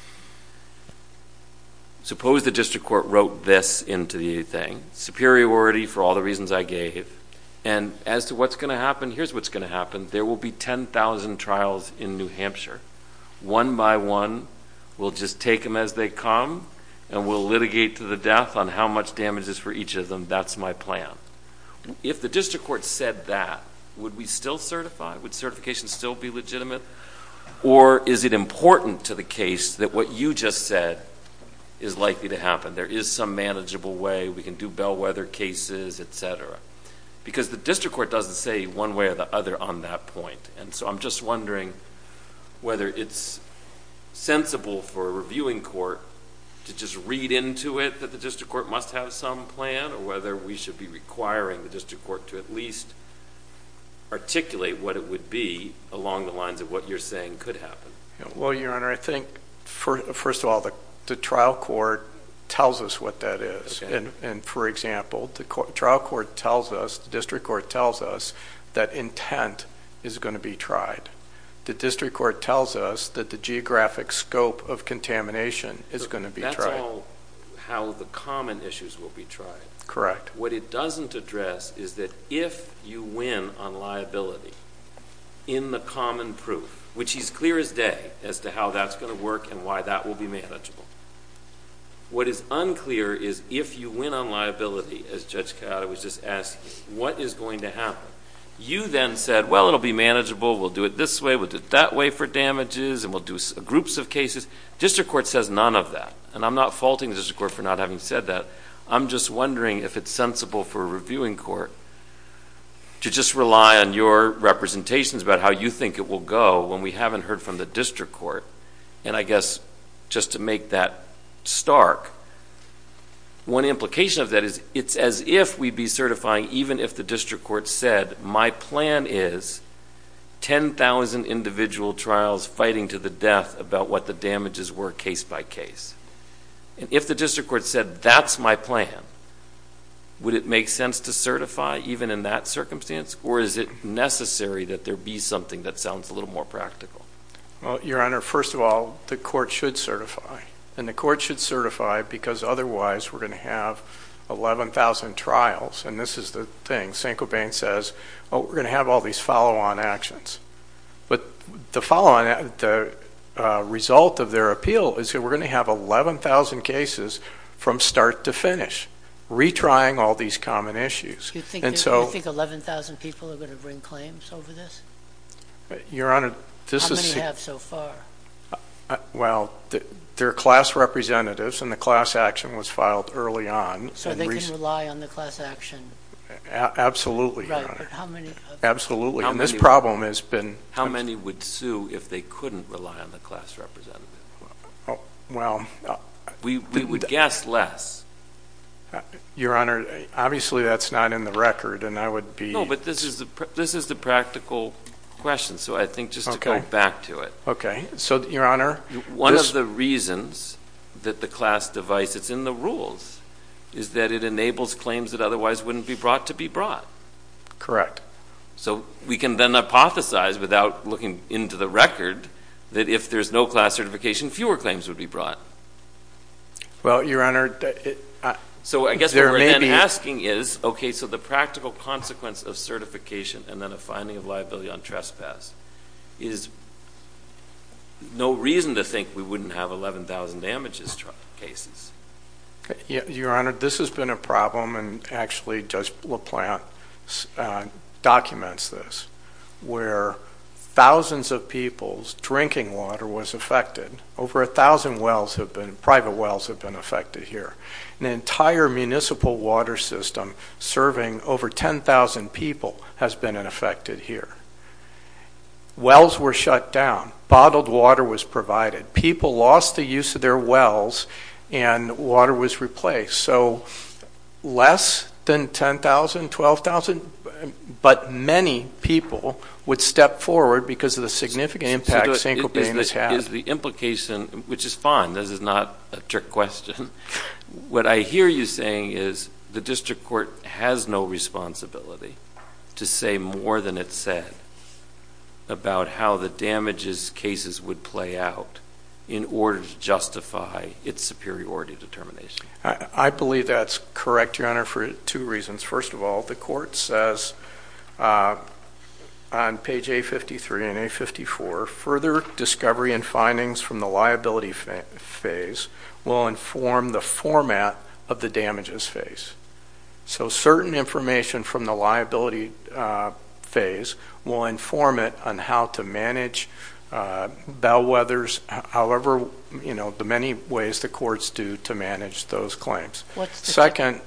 suppose the district court wrote this into the thing, superiority for all the reasons I gave, and as to what's going to happen, here's what's going to happen. There will be 10,000 trials in New Hampshire. One by one, we'll just take them as they come and we'll litigate to the death on how much damage is for each of them. That's my plan. If the district court said that, would we still certify? Would certification still be legitimate? Or is it important to the case that what you just said is likely to happen? There is some manageable way. We can do bellwether cases, et cetera. Because the district court doesn't say one way or the other on that point. And so I'm just wondering whether it's sensible for a reviewing court to just read into it that the district court must have some plan, or whether we should be requiring the district court to at least articulate what it would be along the lines of what you're saying could happen. Well, Your Honor, I think, first of all, the trial court tells us what that is. And for example, the trial court tells us, the district court tells us that intent is going to be tried. The district court tells us that the geographic scope of contamination is going to be tried. That's all how the common issues will be tried. Correct. What it doesn't address is that if you win on liability in the common proof, which is clear as day as to how that's going to work and why that will be manageable, what is unclear is if you win on liability, as Judge Ciotta was just asking, what is going to happen. You then said, well, it will be manageable. We'll do it this way. We'll do it that way for damages. And we'll do groups of cases. District court says none of that. And I'm not faulting the district court for not having said that. I'm just wondering if it's sensible for a reviewing court to just rely on your representations about how you think it will go when we haven't heard from the district court. And I guess just to make that stark, one implication of that is it's as if we'd be certifying even if the district court said, my plan is 10,000 individual trials fighting to the death about what the damages were case by case. And if the district court said, that's my plan, would it make sense to certify even in that circumstance? Or is it necessary that there be something that sounds a little more practical? Well, Your Honor, first of all, the court should certify. And the court should certify because otherwise we're going to have 11,000 trials. And this is the thing. Saint-Cobain says, oh, we're going to have all these follow-on actions. But the follow-on, the result of their appeal is that we're going to have 11,000 cases from start to finish, retrying all these common issues. Do you think 11,000 people are going to bring claims over this? Your Honor, this is. How many have so far? Well, they're class representatives, and the class action was filed early on. So they can rely on the class action? Absolutely, Your Honor. Right, but how many? Absolutely. And this problem has been. How many would sue if they couldn't rely on the class representative? Well. We would guess less. Your Honor, obviously that's not in the record, and I would be. No, but this is the practical question. So I think just to go back to it. Okay. So, Your Honor. One of the reasons that the class device, it's in the rules, is that it enables claims that otherwise wouldn't be brought to be brought. Correct. So we can then hypothesize without looking into the record that if there's no class certification, fewer claims would be brought. Well, Your Honor. So I guess what we're then asking is, okay, so the practical consequence of certification and then a finding of liability on trespass is no reason to think we wouldn't have 11,000 damages cases. Your Honor, this has been a problem, and actually Judge LaPlante documents this, where thousands of people's drinking water was affected. Over 1,000 wells have been, private wells have been affected here. An entire municipal water system serving over 10,000 people has been affected here. Wells were shut down. Bottled water was provided. People lost the use of their wells, and water was replaced. So less than 10,000, 12,000, but many people would step forward because of the significant impact St. Colbain has had. Is the implication, which is fine. This is not a trick question. What I hear you saying is the district court has no responsibility to say more than it said about how the damages cases would play out in order to justify its superiority determination. I believe that's correct, Your Honor, for two reasons. First of all, the court says on page A53 and A54, further discovery and findings from the liability phase will inform the format of the damages phase. So certain information from the liability phase will inform it on how to manage bellwethers, however many ways the courts do to manage those claims. Second,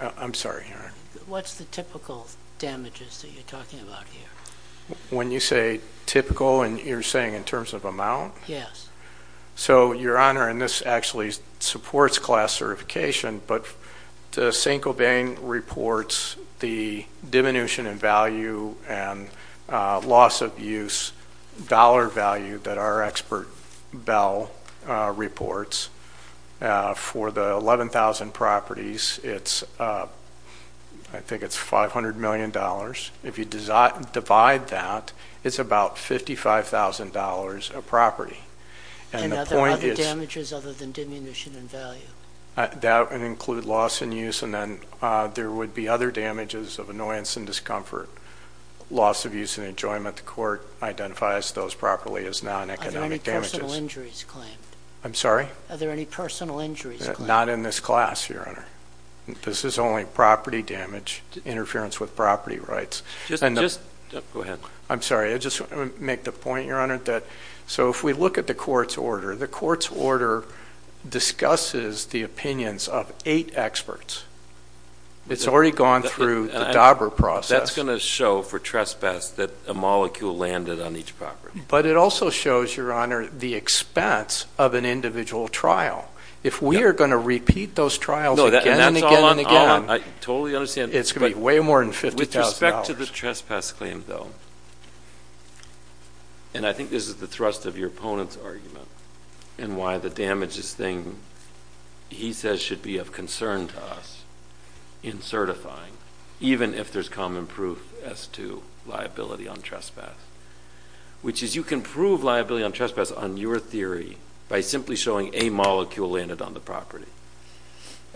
I'm sorry, Your Honor. What's the typical damages that you're talking about here? When you say typical, you're saying in terms of amount? Yes. So, Your Honor, and this actually supports class certification, but St. Colbain reports the diminution in value and loss of use dollar value that our expert bell reports for the 11,000 properties, I think it's $500 million. If you divide that, it's about $55,000 a property. And are there other damages other than diminution in value? That would include loss in use, and then there would be other damages of annoyance and discomfort, loss of use and enjoyment. The court identifies those properly as non-economic damages. Are there any personal injuries claimed? I'm sorry? Are there any personal injuries claimed? Not in this class, Your Honor. This is only property damage, interference with property rights. Go ahead. I'm sorry. I just want to make the point, Your Honor, that so if we look at the court's order, the court's order discusses the opinions of eight experts. It's already gone through the Dauber process. That's going to show for trespass that a molecule landed on each property. But it also shows, Your Honor, the expense of an individual trial. If we are going to repeat those trials again and again and again, it's going to be way more than $50,000. With respect to the trespass claim, though, and I think this is the thrust of your opponent's argument and why the damages thing, he says should be of concern to us in certifying, even if there's common proof as to liability on trespass, which is you can prove liability on trespass on your theory by simply showing a molecule landed on the property.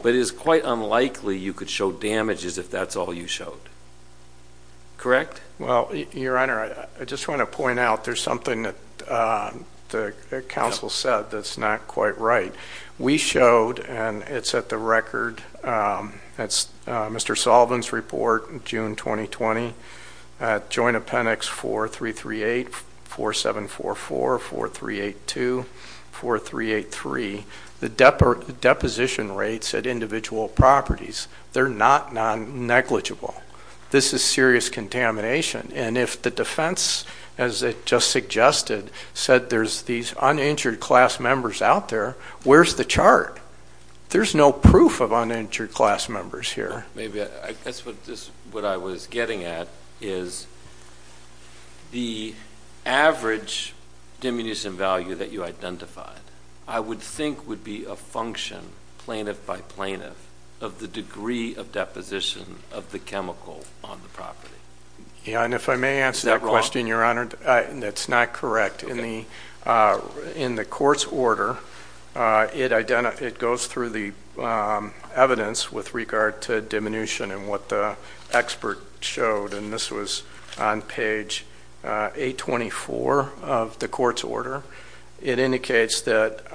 But it is quite unlikely you could show damages if that's all you showed. Correct? Well, Your Honor, I just want to point out there's something that the counsel said that's not quite right. We showed, and it's at the record, that's Mr. Sullivan's report, June 2020, Joint Appendix 4338, 4744, 4382, 4383. The deposition rates at individual properties, they're not non-negligible. This is serious contamination. And if the defense, as it just suggested, said there's these uninjured class members out there, where's the chart? There's no proof of uninjured class members here. Maybe that's what I was getting at is the average diminution value that you identified I would think would be a function, plaintiff by plaintiff, of the degree of deposition of the chemical on the property. Yeah, and if I may answer that question, Your Honor, that's not correct. In the court's order, it goes through the evidence with regard to diminution and what the expert showed. And this was on page 824 of the court's order. It indicates that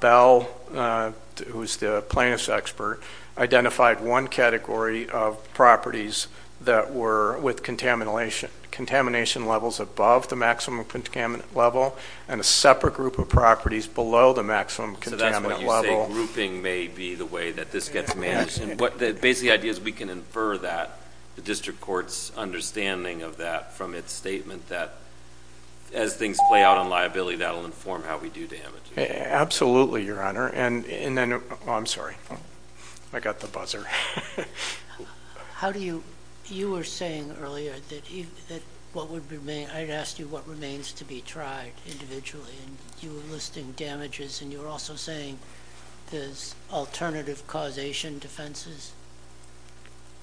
Bell, who's the plaintiff's expert, identified one category of properties that were with contamination levels above the maximum contaminant level and a separate group of properties below the maximum contaminant level. So that's what you say grouping may be the way that this gets managed. And basically the idea is we can infer that, the district court's understanding of that from its statement, that as things play out on liability, that will inform how we do damage. Absolutely, Your Honor. And then, oh, I'm sorry. I got the buzzer. How do you, you were saying earlier that what would remain, I had asked you what remains to be tried individually, and you were listing damages, and you were also saying there's alternative causation defenses,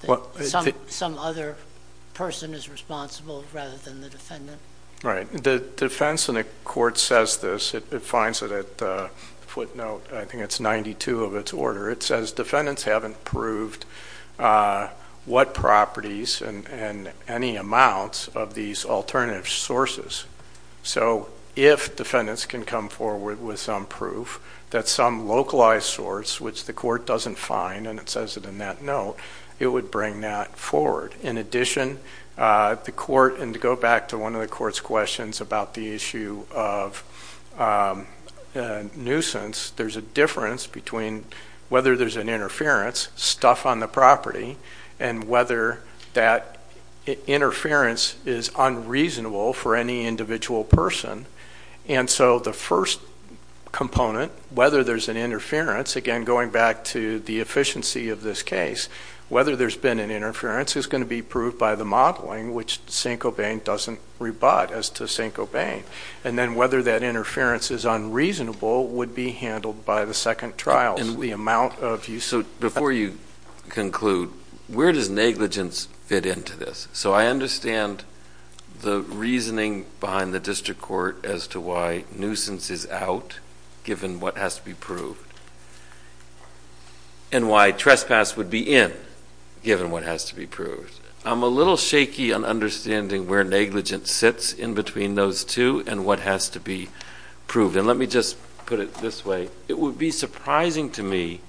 that some other person is responsible rather than the defendant. Right. The defense in the court says this. It finds it at footnote, I think it's 92 of its order. It says defendants haven't proved what properties and any amounts of these alternative sources. So if defendants can come forward with some proof that some localized source, which the court doesn't find and it says it in that note, it would bring that forward. In addition, the court, and to go back to one of the court's questions about the issue of nuisance, there's a difference between whether there's an interference, stuff on the property, and whether that interference is unreasonable for any individual person. And so the first component, whether there's an interference, again, going back to the efficiency of this case, whether there's been an interference is going to be proved by the modeling, which St. Cobain doesn't rebut as to St. Cobain. And then whether that interference is unreasonable would be handled by the second trial, the amount of use. So before you conclude, where does negligence fit into this? So I understand the reasoning behind the district court as to why nuisance is out, given what has to be proved, and why trespass would be in, given what has to be proved. I'm a little shaky on understanding where negligence sits in between those two and what has to be proved. And let me just put it this way. It would be surprising to me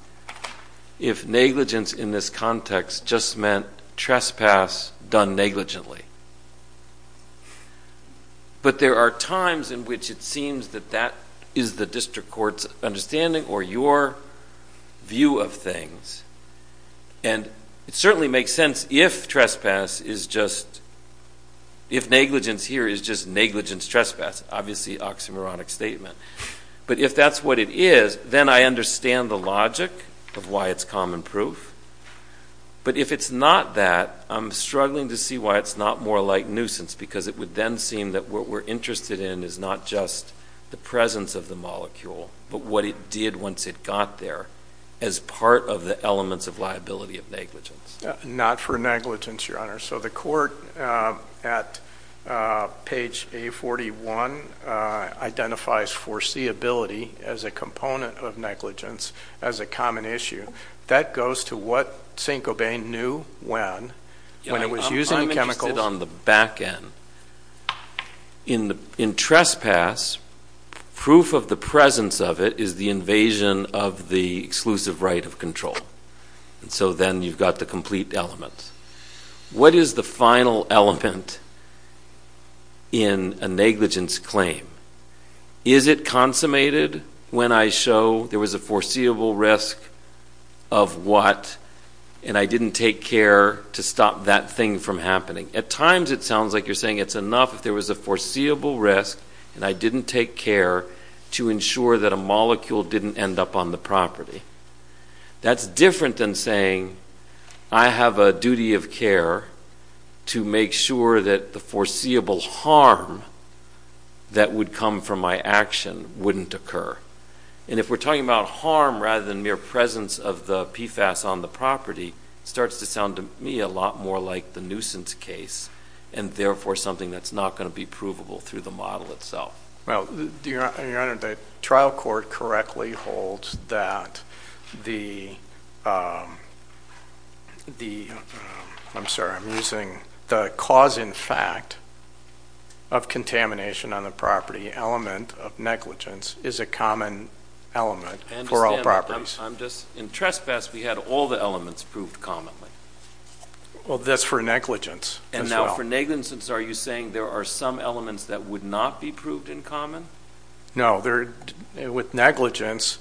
if negligence in this context just meant trespass done negligently. But there are times in which it seems that that is the district court's understanding or your view of things. And it certainly makes sense if negligence here is just negligence trespass, obviously oxymoronic statement. But if that's what it is, then I understand the logic of why it's common proof. But if it's not that, I'm struggling to see why it's not more like nuisance, because it would then seem that what we're interested in is not just the presence of the molecule, but what it did once it got there as part of the elements of liability of negligence. Not for negligence, Your Honor. So the court at page A41 identifies foreseeability as a component of negligence as a common issue. That goes to what St. Gobain knew when, when it was using chemicals. I'm interested on the back end. In trespass, proof of the presence of it is the invasion of the exclusive right of control. So then you've got the complete elements. What is the final element in a negligence claim? Is it consummated when I show there was a foreseeable risk of what, and I didn't take care to stop that thing from happening? At times it sounds like you're saying it's enough if there was a foreseeable risk and I didn't take care to ensure that a molecule didn't end up on the property. That's different than saying I have a duty of care to make sure that the foreseeable harm that would come from my action wouldn't occur. And if we're talking about harm rather than mere presence of the PFAS on the property, it starts to sound to me a lot more like the nuisance case and therefore something that's not going to be provable through the model itself. Well, Your Honor, the trial court correctly holds that the, I'm sorry, I'm using the cause in fact of contamination on the property element of negligence is a common element for all properties. I'm just, in trespass we had all the elements proved commonly. Well, that's for negligence as well. For negligence, are you saying there are some elements that would not be proved in common? No. With negligence,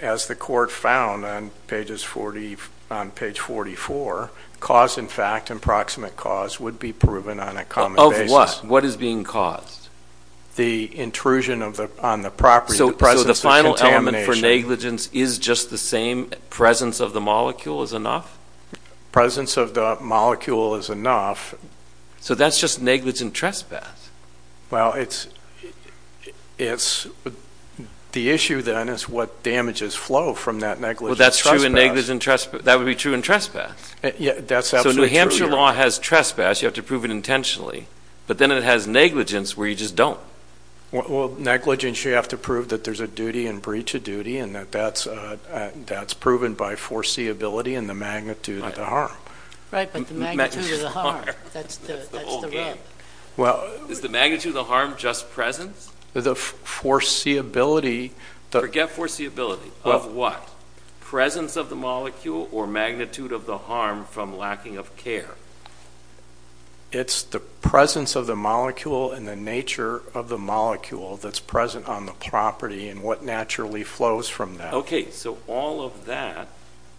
as the court found on page 44, cause in fact and proximate cause would be proven on a common basis. Of what? What is being caused? The intrusion on the property. So the final element for negligence is just the same? Presence of the molecule is enough? Presence of the molecule is enough. So that's just negligent trespass. Well, it's the issue then is what damages flow from that negligent trespass. Well, that's true in negligent trespass. That would be true in trespass. Yeah, that's absolutely true. So New Hampshire law has trespass. You have to prove it intentionally. But then it has negligence where you just don't. Well, negligence you have to prove that there's a duty and breach of duty and that that's proven by foreseeability and the magnitude of the harm. Right, but the magnitude of the harm. That's the whole game. Is the magnitude of the harm just presence? The foreseeability. Forget foreseeability. Of what? Presence of the molecule or magnitude of the harm from lacking of care? It's the presence of the molecule and the nature of the molecule that's present on the property and what naturally flows from that. Okay, so all of that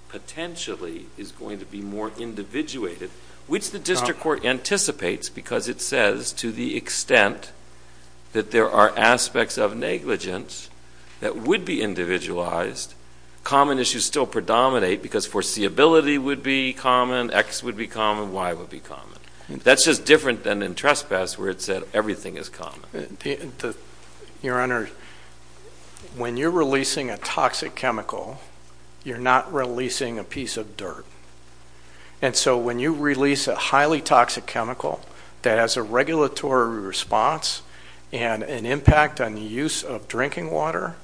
potentially is going to be more individuated, which the district court anticipates because it says to the extent that there are aspects of negligence that would be individualized, common issues still predominate because foreseeability would be common, X would be common, Y would be common. That's just different than in trespass where it said everything is common. Your Honor, when you're releasing a toxic chemical, you're not releasing a piece of dirt. And so when you release a highly toxic chemical that has a regulatory response and an impact on the use of drinking water,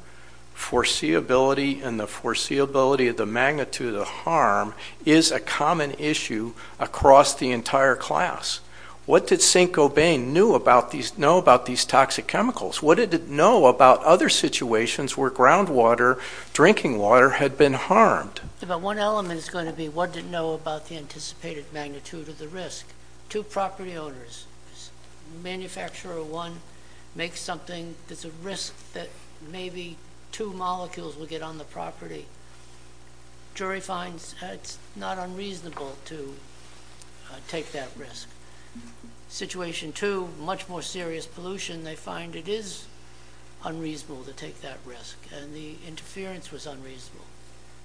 foreseeability and the foreseeability of the magnitude of the harm is a common issue across the entire class. What did Saint-Gobain know about these toxic chemicals? What did it know about other situations where groundwater, drinking water had been harmed? One element is going to be what did it know about the anticipated magnitude of the risk? Two property owners, manufacturer one makes something, there's a risk that maybe two molecules will get on the property. Jury finds it's not unreasonable to take that risk. Situation two, much more serious pollution, they find it is unreasonable to take that risk and the interference was unreasonable.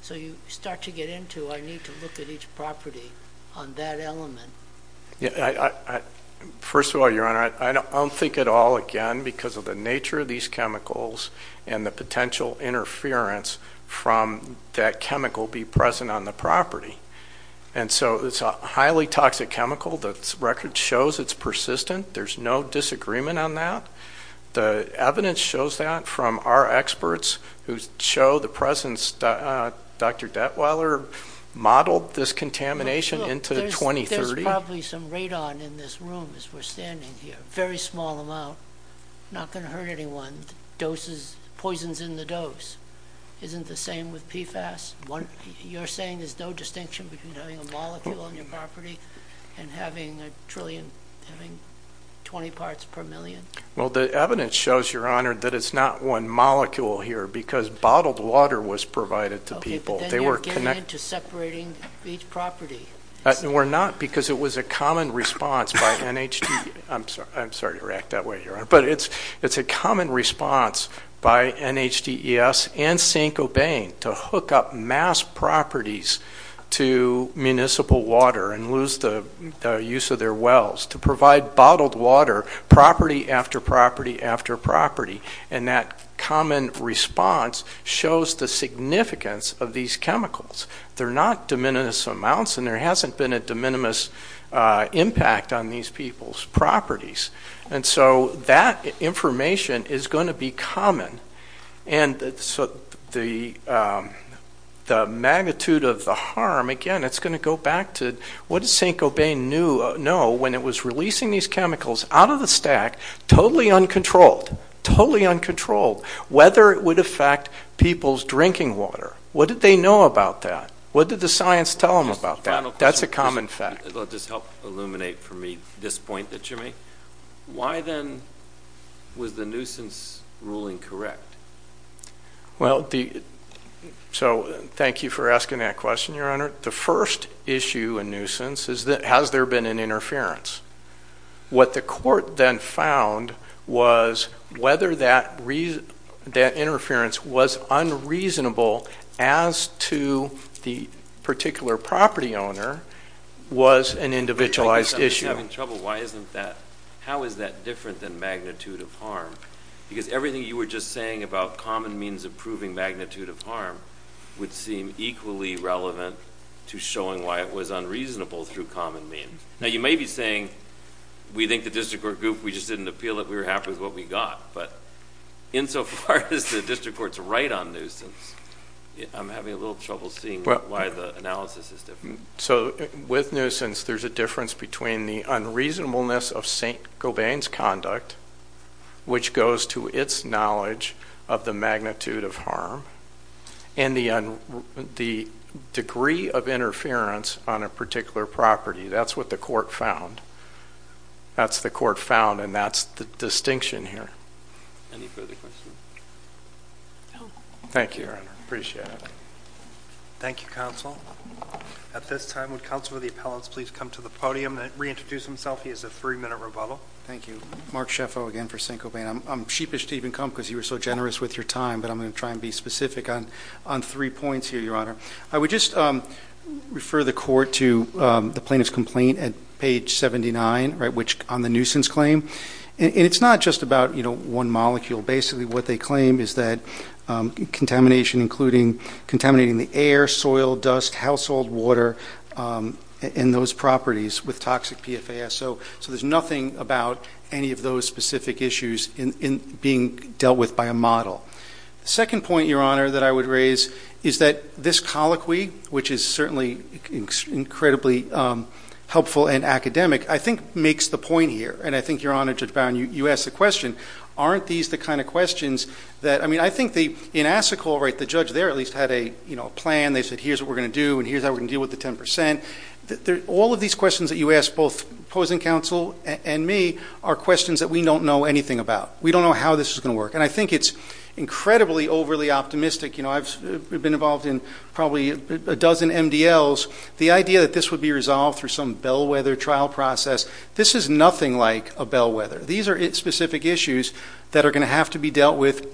So you start to get into I need to look at each property on that element. First of all, Your Honor, I don't think at all again because of the nature of these chemicals and the potential interference from that chemical be present on the property. And so it's a highly toxic chemical. The record shows it's persistent. There's no disagreement on that. The evidence shows that from our experts who show the presence. Dr. Detweiler modeled this contamination into 2030. There's probably some radon in this room as we're standing here, a very small amount. Not going to hurt anyone. Poison's in the dose. Isn't the same with PFAS? You're saying there's no distinction between having a molecule on your property and having a trillion, having 20 parts per million? Well, the evidence shows, Your Honor, that it's not one molecule here because bottled water was provided to people. Okay, but then you're getting into separating each property. We're not because it was a common response by NHDP. I'm sorry to react that way, Your Honor, but it's a common response by NHDES and Saint-Gobain to hook up mass properties to municipal water and lose the use of their wells, to provide bottled water property after property after property. And that common response shows the significance of these chemicals. They're not de minimis amounts, and there hasn't been a de minimis impact on these people's properties. And so that information is going to be common. And so the magnitude of the harm, again, it's going to go back to, what did Saint-Gobain know when it was releasing these chemicals out of the stack, totally uncontrolled, totally uncontrolled, whether it would affect people's drinking water? What did they know about that? What did the science tell them about that? That's a common fact. Let this help illuminate for me this point that you make. Why then was the nuisance ruling correct? Well, so thank you for asking that question, Your Honor. The first issue in nuisance is has there been an interference? What the court then found was whether that interference was unreasonable as to the particular property owner was an individualized issue. I'm just having trouble. Why isn't that? How is that different than magnitude of harm? Because everything you were just saying about common means of proving magnitude of harm would seem equally relevant to showing why it was unreasonable through common means. Now, you may be saying we think the district court group, we just didn't appeal it, we were happy with what we got. But insofar as the district court's right on nuisance, I'm having a little trouble seeing why the analysis is different. So with nuisance, there's a difference between the unreasonableness of St. Gobain's conduct, which goes to its knowledge of the magnitude of harm, and the degree of interference on a particular property. That's what the court found. That's the court found, and that's the distinction here. Any further questions? No. Thank you, Your Honor. Appreciate it. Thank you, counsel. At this time, would counsel of the appellants please come to the podium and reintroduce himself. He has a three-minute rebuttal. Thank you. Mark Shefo again for St. Gobain. I'm sheepish to even come because you were so generous with your time, but I'm going to try and be specific on three points here, Your Honor. I would just refer the court to the plaintiff's complaint at page 79 on the nuisance claim. And it's not just about one molecule. Basically what they claim is that contamination including contaminating the air, soil, dust, household water, and those properties with toxic PFAS. So there's nothing about any of those specific issues being dealt with by a model. The second point, Your Honor, that I would raise is that this colloquy, which is certainly incredibly helpful and academic, I think makes the point here. And I think, Your Honor, Judge Brown, you asked the question, aren't these the kind of questions that, I mean, I think in Assacol, right, the judge there at least had a plan. They said here's what we're going to do, and here's how we're going to deal with the 10%. All of these questions that you asked both opposing counsel and me are questions that we don't know anything about. We don't know how this is going to work. And I think it's incredibly overly optimistic. I've been involved in probably a dozen MDLs. The idea that this would be resolved through some bellwether trial process, this is nothing like a bellwether. These are specific issues that are going to have to be dealt with.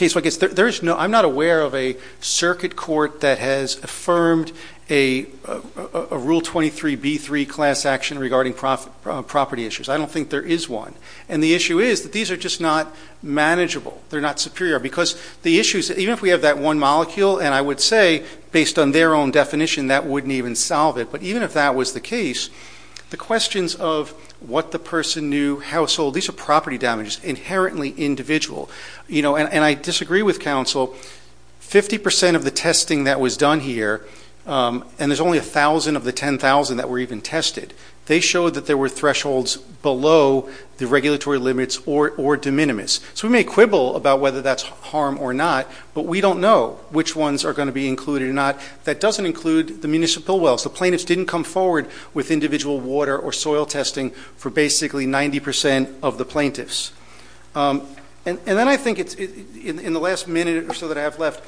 I'm not aware of a circuit court that has affirmed a Rule 23B3 class action regarding property issues. I don't think there is one. And the issue is that these are just not manageable. They're not superior. Because the issues, even if we have that one molecule, and I would say, based on their own definition, that wouldn't even solve it. But even if that was the case, the questions of what the person knew, household, these are property damages, inherently individual. And I disagree with counsel. Fifty percent of the testing that was done here, and there's only 1,000 of the 10,000 that were even tested, they showed that there were thresholds below the regulatory limits or de minimis. So we may quibble about whether that's harm or not, but we don't know which ones are going to be included or not. That doesn't include the municipal wells. The plaintiffs didn't come forward with individual water or soil testing for basically 90% of the plaintiffs. And then I think in the last minute or so that I have left,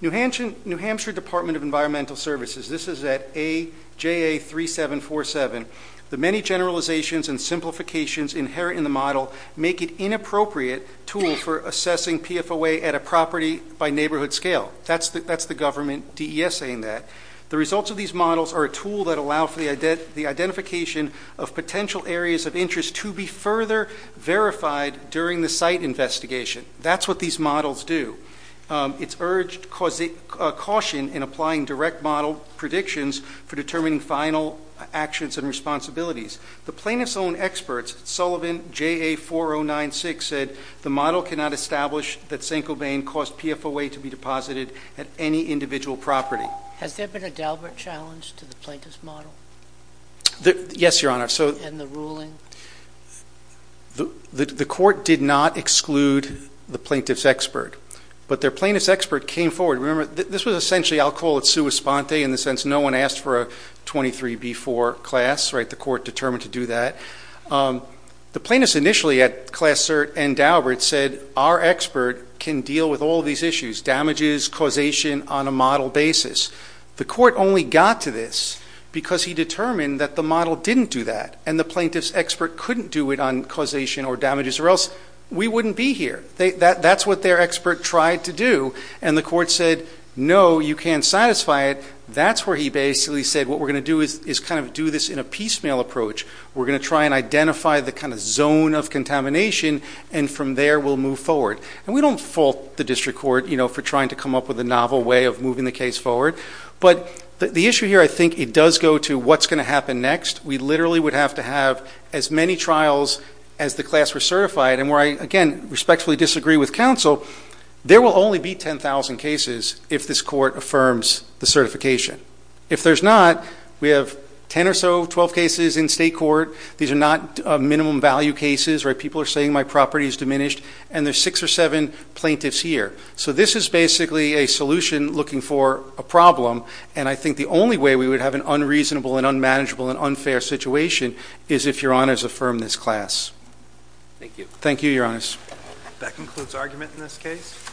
New Hampshire Department of Environmental Services, this is at AJA3747, the many generalizations and simplifications inherent in the model make it inappropriate tool for assessing PFOA at a property-by-neighborhood scale. That's the government DES saying that. The results of these models are a tool that allow for the identification of potential areas of interest to be further verified during the site investigation. That's what these models do. It's urged caution in applying direct model predictions for determining final actions and responsibilities. The plaintiffs' own experts, Sullivan JA4096, said the model cannot establish that St. Cobain caused PFOA to be deposited at any individual property. Has there been a Dalbert challenge to the plaintiff's model? Yes, Your Honor. And the ruling? The court did not exclude the plaintiff's expert, but their plaintiff's expert came forward. Remember, this was essentially, I'll call it sua sponte in the sense no one asked for a 23B4 class, right? The court determined to do that. The plaintiffs initially at Class Cert and Dalbert said our expert can deal with all these issues, damages, causation, on a model basis. The court only got to this because he determined that the model didn't do that. And the plaintiff's expert couldn't do it on causation or damages or else we wouldn't be here. That's what their expert tried to do. And the court said, no, you can't satisfy it. That's where he basically said what we're going to do is kind of do this in a piecemeal approach. We're going to try and identify the kind of zone of contamination, and from there we'll move forward. And we don't fault the district court for trying to come up with a novel way of moving the case forward. But the issue here, I think it does go to what's going to happen next. We literally would have to have as many trials as the class were certified. And where I, again, respectfully disagree with counsel, there will only be 10,000 cases if this court affirms the certification. If there's not, we have 10 or so, 12 cases in state court. These are not minimum value cases where people are saying my property is diminished. And there's six or seven plaintiffs here. So this is basically a solution looking for a problem. And I think the only way we would have an unreasonable and unmanageable and unfair situation is if Your Honors affirmed this class. Thank you. Thank you, Your Honors. That concludes argument in this case.